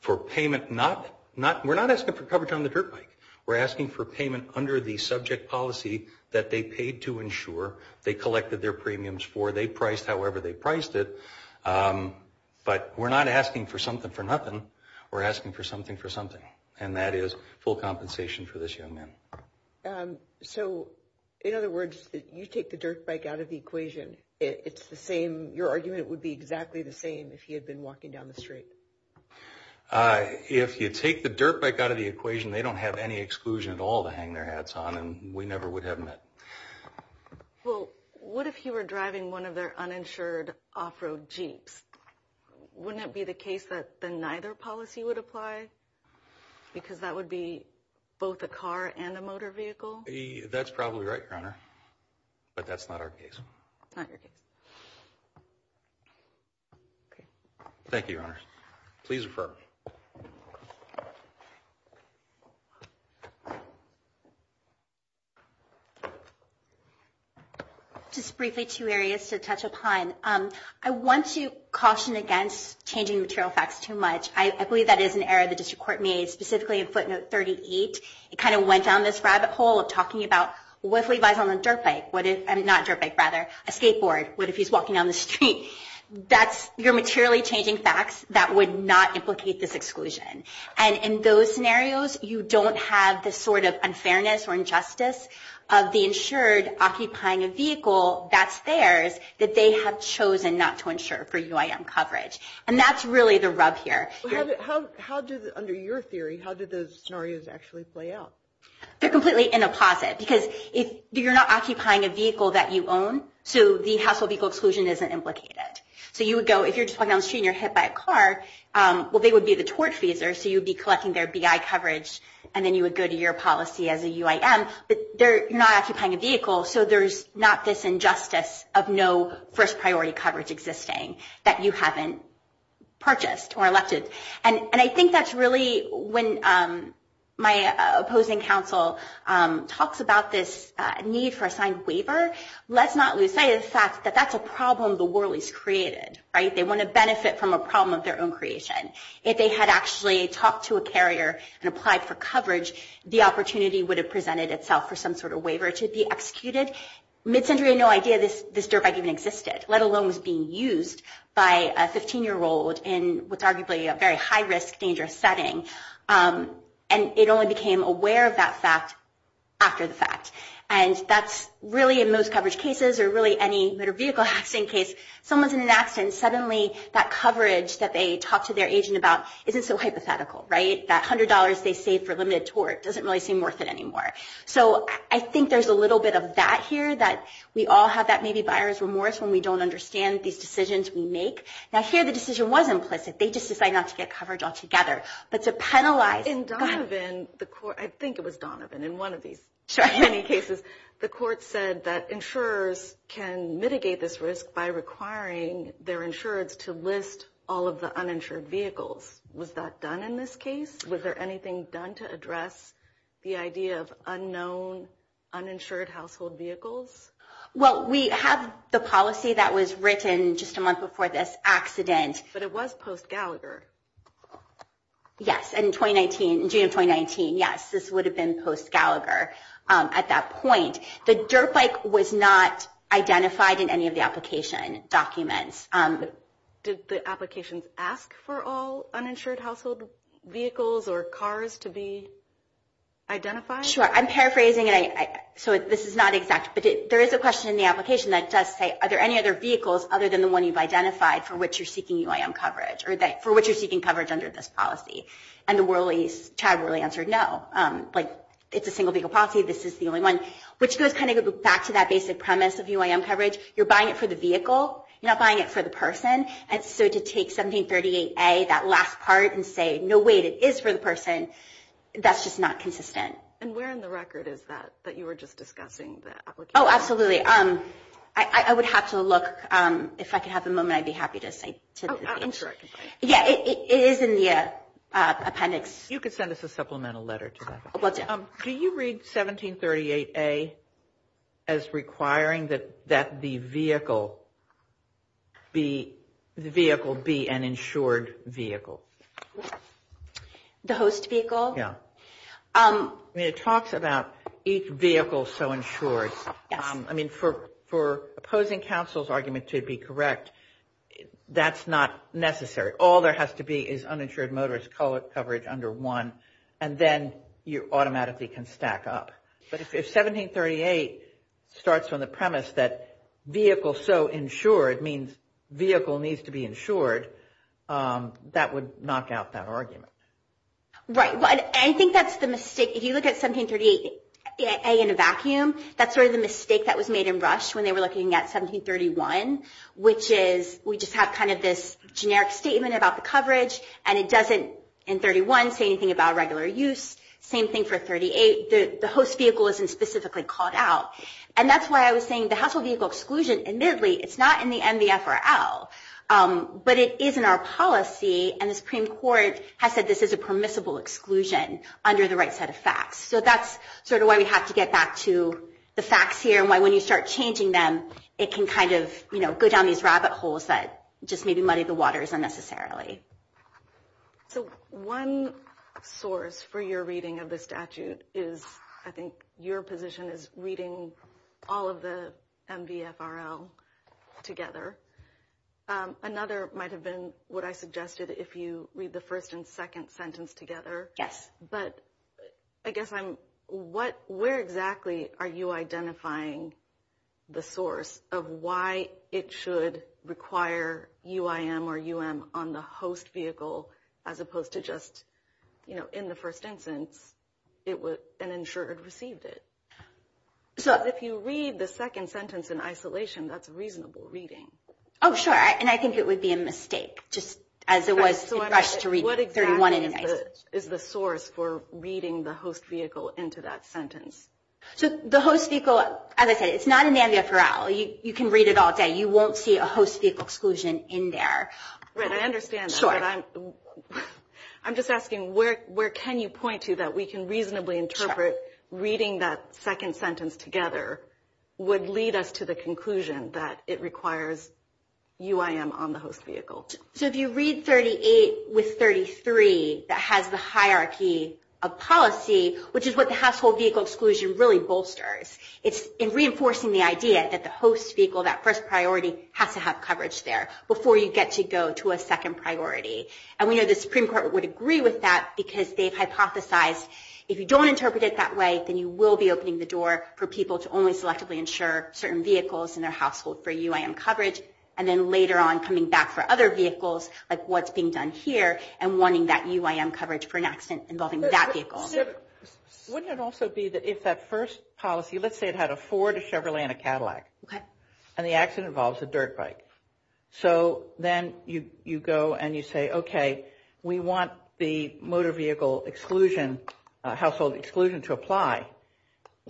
for payment, we're not asking for coverage on the dirt bike. We're asking for payment under the subject policy that they paid to insure, they collected their premiums for, they priced however they priced it, but we're not asking for something for nothing. We're asking for something for something, and that is full compensation for this young man. So, in other words, you take the dirt bike out of the equation, it's the same, your argument would be exactly the same if he had been walking down the street. If you take the dirt bike out of the equation, they don't have any exclusion at all to hang their hats on, and we never would have met. Well, what if he were driving one of their uninsured off-road Jeeps? Wouldn't it be the case that the neither policy would apply, because that would be both a car and a motor vehicle? That's probably right, Your Honor, but that's not our case. Not your case. Thank you, Your Honor. Please refer. Just briefly, two areas to touch upon. I want to caution against changing material facts too much. I believe that is an error the district court made, specifically in footnote 38. It kind of went down this rabbit hole of talking about what if he rides on a dirt bike, a skateboard, what if he's walking down the street. That's your materially changing facts that would not implicate this exclusion. And in those scenarios, you don't have the sort of unfairness or injustice of the insured occupying a vehicle that's theirs that they have chosen not to insure for UIM coverage. And that's really the rub here. Under your theory, how did those scenarios actually play out? They're completely in a posit, because you're not occupying a vehicle that you own, so the household vehicle exclusion isn't implicated. So you would go, if you're just walking down the street and you're hit by a car, well, they would be the tortfeasor, so you would be collecting their BI coverage, and then you would go to your policy as a UIM. But you're not occupying a vehicle, so there's not this injustice of no first priority coverage existing that you haven't purchased or elected. And I think that's really when my opposing counsel talks about this need for a signed waiver. Let's not lose sight of the fact that that's a problem the Worleys created, right? They want to benefit from a problem of their own creation. If they had actually talked to a carrier and applied for coverage, the opportunity would have presented itself for some sort of waiver to be executed. Midsentry had no idea this dirt bike even existed, let alone was being used by a 15-year-old in what's arguably a very high-risk, dangerous setting. And it only became aware of that fact after the fact. And that's really in most coverage cases or really any motor vehicle accident case, someone's in an accident and suddenly that coverage that they talk to their agent about isn't so hypothetical, right? That $100 they saved for limited tort doesn't really seem worth it anymore. So I think there's a little bit of that here, that we all have that maybe buyer's remorse when we don't understand these decisions we make. Now, here the decision was implicit. They just decided not to get coverage altogether. But to penalize... In Donovan, I think it was Donovan, in one of these cases, the court said that insurers can mitigate this risk by requiring their insurance to list all of the uninsured vehicles. Was that done in this case? Was there anything done to address the idea of unknown uninsured household vehicles? Well, we have the policy that was written just a month before this accident. But it was post-Gallagher. Yes, in June of 2019. Yes, this would have been post-Gallagher at that point. The dirt bike was not identified in any of the application documents. Did the applications ask for all uninsured household vehicles or cars to be identified? Sure. I'm paraphrasing. So this is not exact. But there is a question in the application that does say, are there any other vehicles other than the one you've identified for which you're seeking UIM coverage, or for which you're seeking coverage under this policy? And Chad really answered no. It's a single vehicle policy. This is the only one. You're buying it for the vehicle. You're not buying it for the person. And so to take 1738A, that last part, and say, no, wait, it is for the person, that's just not consistent. And where in the record is that that you were just discussing, the application? Oh, absolutely. I would have to look. If I could have a moment, I'd be happy to cite it. Oh, I'm sure I can find it. Yeah, it is in the appendix. You could send us a supplemental letter to that. Will do. Can you read 1738A as requiring that the vehicle be an insured vehicle? The host vehicle? Yeah. I mean, it talks about each vehicle so insured. Yes. I mean, for opposing counsel's argument to be correct, that's not necessary. All there has to be is uninsured motorist coverage under one, and then you automatically can stack up. But if 1738 starts on the premise that vehicle so insured means vehicle needs to be insured, that would knock out that argument. Right. I think that's the mistake. If you look at 1738A in a vacuum, that's sort of the mistake that was made in Rush when they were looking at 1731, and it doesn't, in 31, say anything about regular use. Same thing for 38. The host vehicle isn't specifically called out. And that's why I was saying the household vehicle exclusion, admittedly, it's not in the MVFRL, but it is in our policy, and the Supreme Court has said this is a permissible exclusion under the right set of facts. So that's sort of why we have to get back to the facts here and why when you start changing them, it can kind of go down these rabbit holes that just maybe muddy the waters unnecessarily. So one source for your reading of the statute is I think your position is reading all of the MVFRL together. Another might have been what I suggested, if you read the first and second sentence together. Yes. But I guess I'm – where exactly are you identifying the source of why it should require UIM or UM on the host vehicle as opposed to just, you know, in the first instance, and ensure it received it? So if you read the second sentence in isolation, that's reasonable reading. Oh, sure. And I think it would be a mistake just as it was in Rush to read 31 in isolation. What is the source for reading the host vehicle into that sentence? So the host vehicle, as I said, it's not in the MVFRL. You can read it all day. You won't see a host vehicle exclusion in there. Right, I understand that. Sure. But I'm just asking, where can you point to that we can reasonably interpret reading that second sentence together would lead us to the conclusion that it requires UIM on the host vehicle? So if you read 38 with 33, that has the hierarchy of policy, which is what the household vehicle exclusion really bolsters. It's reinforcing the idea that the host vehicle, that first priority, has to have coverage there before you get to go to a second priority. And we know the Supreme Court would agree with that because they've hypothesized if you don't interpret it that way, then you will be opening the door for people to only selectively ensure certain vehicles in their household for UIM coverage, and then later on coming back for other vehicles, like what's being done here, and wanting that UIM coverage for an accident involving that vehicle. Wouldn't it also be that if that first policy, let's say it had a Ford, a Chevrolet, and a Cadillac, and the accident involves a dirt bike, so then you go and you say, okay, we want the motor vehicle exclusion, household exclusion, to apply.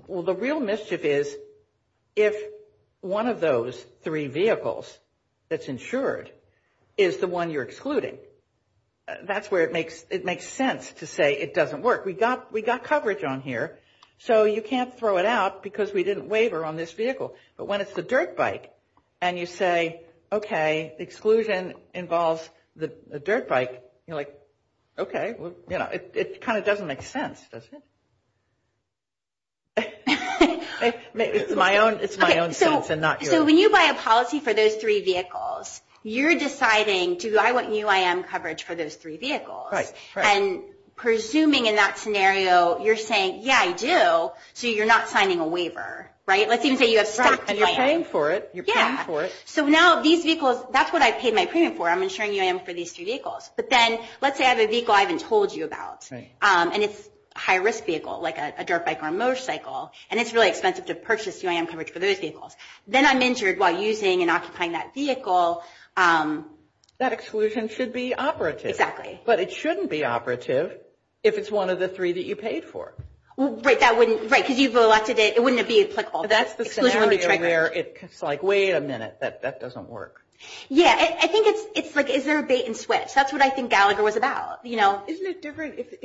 Well, the real mischief is if one of those three vehicles that's insured is the one you're excluding. That's where it makes sense to say it doesn't work. We got coverage on here, so you can't throw it out because we didn't waiver on this vehicle. But when it's the dirt bike, and you say, okay, exclusion involves the dirt bike, you're like, okay, it kind of doesn't make sense, does it? It's my own sense and not yours. So when you buy a policy for those three vehicles, you're deciding, do I want UIM coverage for those three vehicles? Right. And presuming in that scenario, you're saying, yeah, I do, so you're not signing a waiver, right? Let's even say you have stacked UIM. And you're paying for it. Yeah. You're paying for it. So now these vehicles, that's what I paid my premium for. I'm insuring UIM for these three vehicles. But then let's say I have a vehicle I haven't told you about. Right. And it's a high-risk vehicle, like a dirt bike or a motorcycle, and it's really expensive to purchase UIM coverage for those vehicles. Then I'm insured while using and occupying that vehicle. That exclusion should be operative. Exactly. But it shouldn't be operative if it's one of the three that you paid for. Right, because you've allotted it. It wouldn't be applicable. That's the scenario where it's like, wait a minute, that doesn't work. Yeah. I think it's like, is there a bait and switch? That's what I think Gallagher was about. Isn't it different if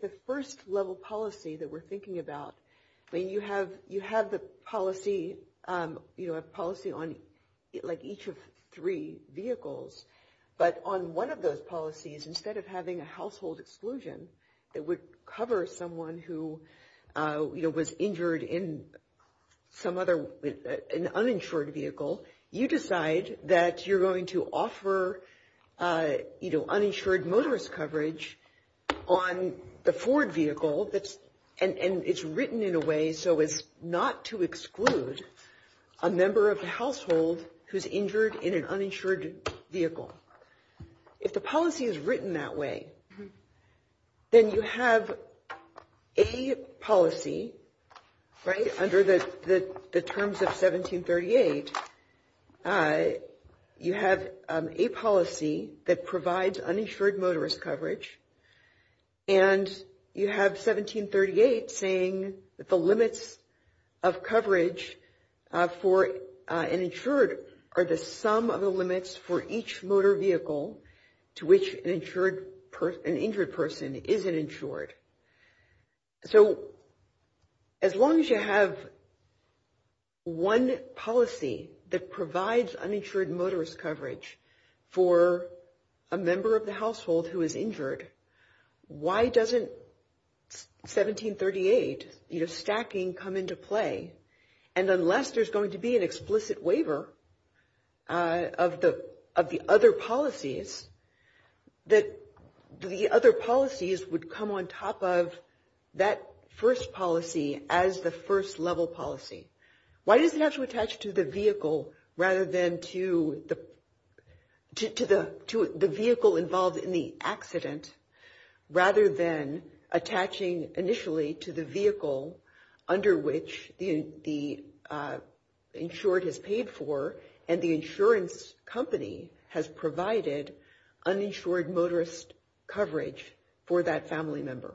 the first-level policy that we're thinking about, when you have the policy on each of three vehicles, but on one of those policies, instead of having a household exclusion that would cover someone who was injured in an uninsured vehicle, you decide that you're going to offer, you know, uninsured motorist coverage on the Ford vehicle, and it's written in a way so as not to exclude a member of the household who's injured in an uninsured vehicle. If the policy is written that way, then you have a policy, right, under the terms of 1738, you have a policy that provides uninsured motorist coverage, and you have 1738 saying that the limits of coverage for an insured are the sum of the limits for each motor vehicle to which an injured person isn't insured. So as long as you have one policy that provides uninsured motorist coverage for a member of the household who is injured, why doesn't 1738, you know, stacking come into play? And unless there's going to be an explicit waiver of the other policies, that the other policies would come on top of that first policy as the first level policy. Why does it have to attach to the vehicle rather than to the vehicle involved in the accident rather than attaching initially to the vehicle under which the uninsured motorist coverage for that family member?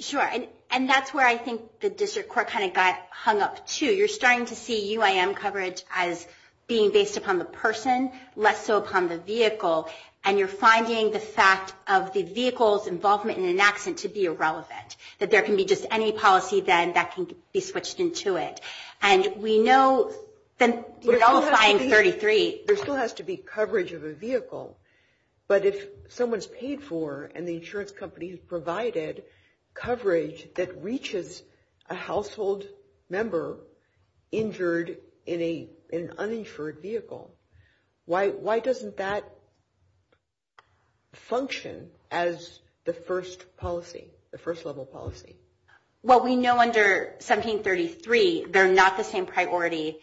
Sure. And that's where I think the district court kind of got hung up, too. You're starting to see UIM coverage as being based upon the person, less so upon the vehicle, and you're finding the fact of the vehicle's involvement in an accident to be irrelevant, that there can be just any policy, then, that can be switched into it. There still has to be coverage of a vehicle, but if someone's paid for and the insurance company has provided coverage that reaches a household member injured in an uninsured vehicle, why doesn't that function as the first policy, the first level policy? Well, we know under 1733 they're not the same priority.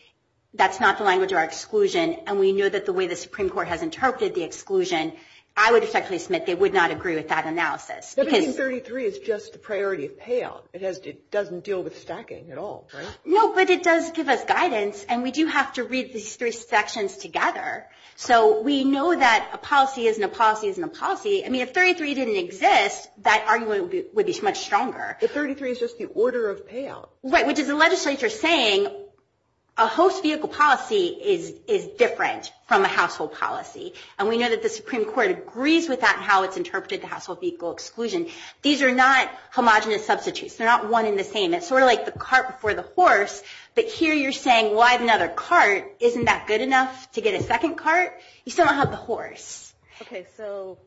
That's not the language of our exclusion, and we know that the way the Supreme Court has interpreted the exclusion, I would effectively submit they would not agree with that analysis. 1733 is just the priority of payout. It doesn't deal with stacking at all, right? No, but it does give us guidance, and we do have to read these three sections together, so we know that a policy isn't a policy isn't a policy. I mean, if 33 didn't exist, that argument would be much stronger. But 33 is just the order of payout. Right, which is the legislature saying a host vehicle policy is different from a household policy, and we know that the Supreme Court agrees with that and how it's interpreted to household vehicle exclusion. These are not homogenous substitutes. They're not one and the same. It's sort of like the cart before the horse, but here you're saying, well, I have another cart. Isn't that good enough to get a second cart? You still don't have the horse. Okay, so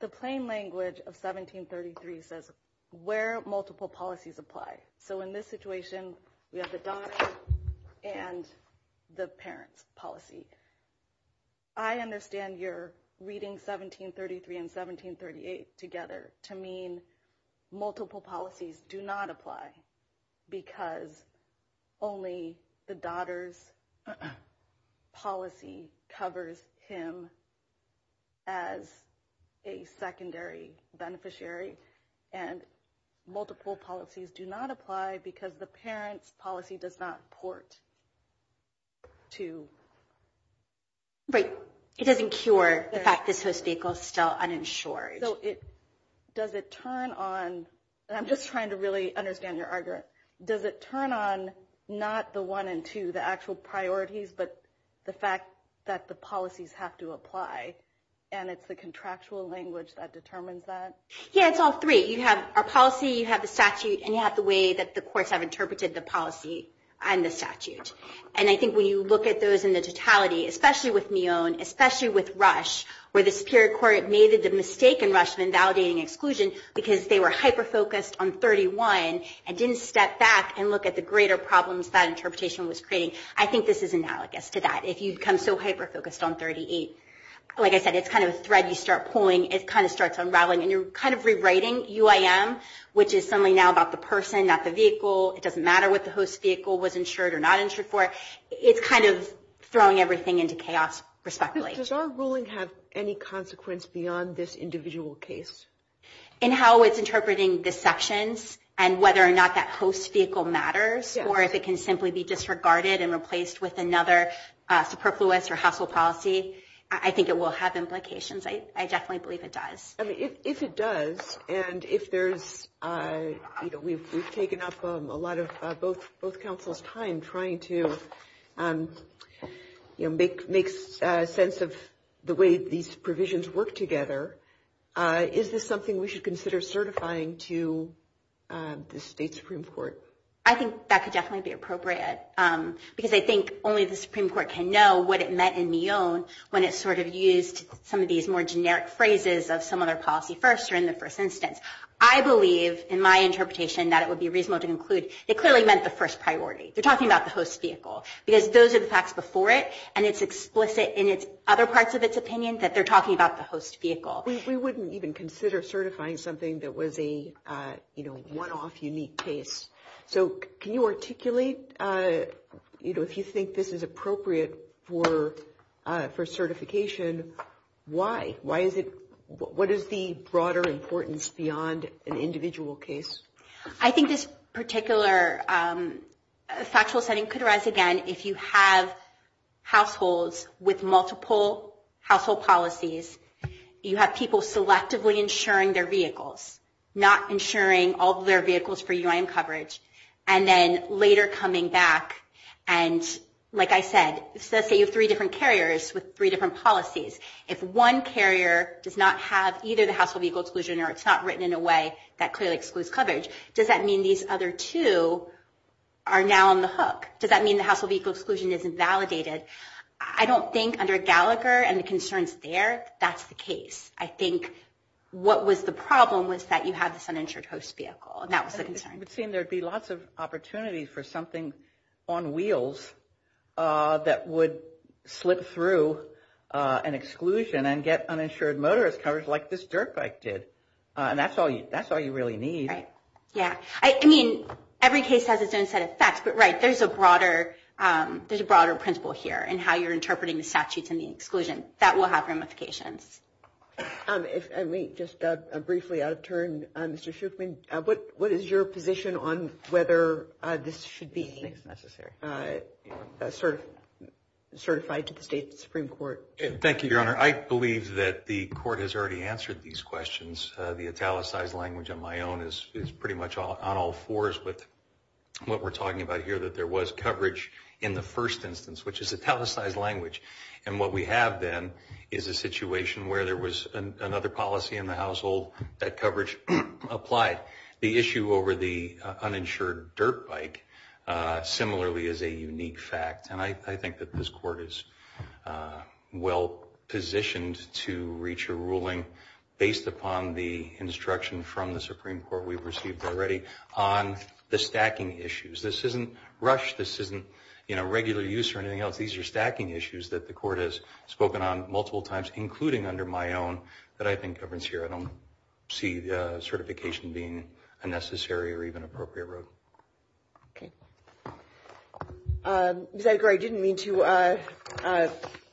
the plain language of 1733 says where multiple policies apply. So in this situation, we have the daughter and the parent's policy. I understand you're reading 1733 and 1738 together to mean multiple policies do not apply because only the daughter's policy covers him as a secondary beneficiary, and multiple policies do not apply because the parent's policy does not port to. Right, it doesn't cure the fact this host vehicle is still uninsured. So does it turn on, and I'm just trying to really understand your argument, does it turn on not the one and two, the actual priorities, but the fact that the policies have to apply, and it's the contractual language that determines that? Yeah, it's all three. You have our policy, you have the statute, and you have the way that the courts have interpreted the policy and the statute. And I think when you look at those in the totality, especially with Mion, especially with Rush, where the Superior Court made the mistake in Rush in invalidating exclusion because they were hyper-focused on 31 and didn't step back and look at the greater problems that interpretation was creating. I think this is analogous to that. If you become so hyper-focused on 38, like I said, it's kind of a thread you start pulling. It kind of starts unraveling, and you're kind of rewriting UIM, which is suddenly now about the person, not the vehicle. It doesn't matter what the host vehicle was insured or not insured for. It's kind of throwing everything into chaos, respectively. Does our ruling have any consequence beyond this individual case? In how it's interpreting the sections and whether or not that host vehicle matters or if it can simply be disregarded and replaced with another superfluous or hassle policy, I think it will have implications. I definitely believe it does. If it does, and we've taken up a lot of both counsels' time trying to make sense of the way these provisions work together, is this something we should consider certifying to the state Supreme Court? I think that could definitely be appropriate, because I think only the Supreme Court can know what it meant in Mion when it sort of used some of these more generic phrases of some other policy first or in the first instance. I believe, in my interpretation, that it would be reasonable to conclude it clearly meant the first priority. They're talking about the host vehicle, because those are the facts before it, and it's explicit in other parts of its opinion that they're talking about the host vehicle. We wouldn't even consider certifying something that was a one-off, unique case. Can you articulate, if you think this is appropriate for certification, why? What is the broader importance beyond an individual case? I think this particular factual setting could arise again if you have households with multiple household policies. You have people selectively insuring their vehicles, not insuring all of their vehicles for UIM coverage, and then later coming back and, like I said, say you have three different carriers with three different policies. If one carrier does not have either the household vehicle exclusion, or it's not written in a way that clearly excludes coverage, does that mean these other two are now on the hook? Does that mean the household vehicle exclusion isn't validated? I don't think, under Gallagher and the concerns there, that's the case. I think what was the problem was that you have this uninsured host vehicle, and that was the concern. It would seem there would be lots of opportunities for something on wheels that would slip through an exclusion and get uninsured motorist coverage like this dirt bike did, and that's all you really need. Every case has its own set of facts, but there's a broader principle here in how you're interpreting the statutes and the exclusion. That will have ramifications. If I may, just briefly, out of turn, Mr. Schuchman, what is your position on whether this should be certified to the state Supreme Court? Thank you, Your Honor. I believe that the court has already answered these questions. The italicized language on my own is pretty much on all fours with what we're talking about here, that there was coverage in the first instance, which is italicized language, and what we have then is a situation where there was another policy in the household that coverage applied. The issue over the uninsured dirt bike, similarly, is a unique fact, and I think that this court is well positioned to reach a ruling based upon the instruction from the Supreme Court we've received already on the stacking issues. This isn't rush. This isn't regular use or anything else. These are stacking issues that the court has spoken on multiple times, including under my own, that I think governs here. I don't see certification being a necessary or even appropriate road. Okay. Ms. Edgar, I didn't mean to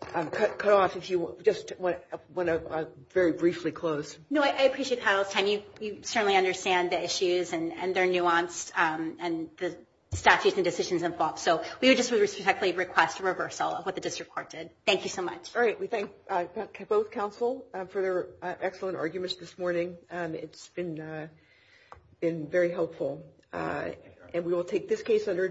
cut off if you just want to very briefly close. No, I appreciate Kyle's time. You certainly understand the issues and their nuance and the statutes and decisions involved. So we would just respectfully request a reversal of what the district court did. Thank you so much. All right. We thank both counsel for their excellent arguments this morning. It's been very helpful. And we will take this case under advisory.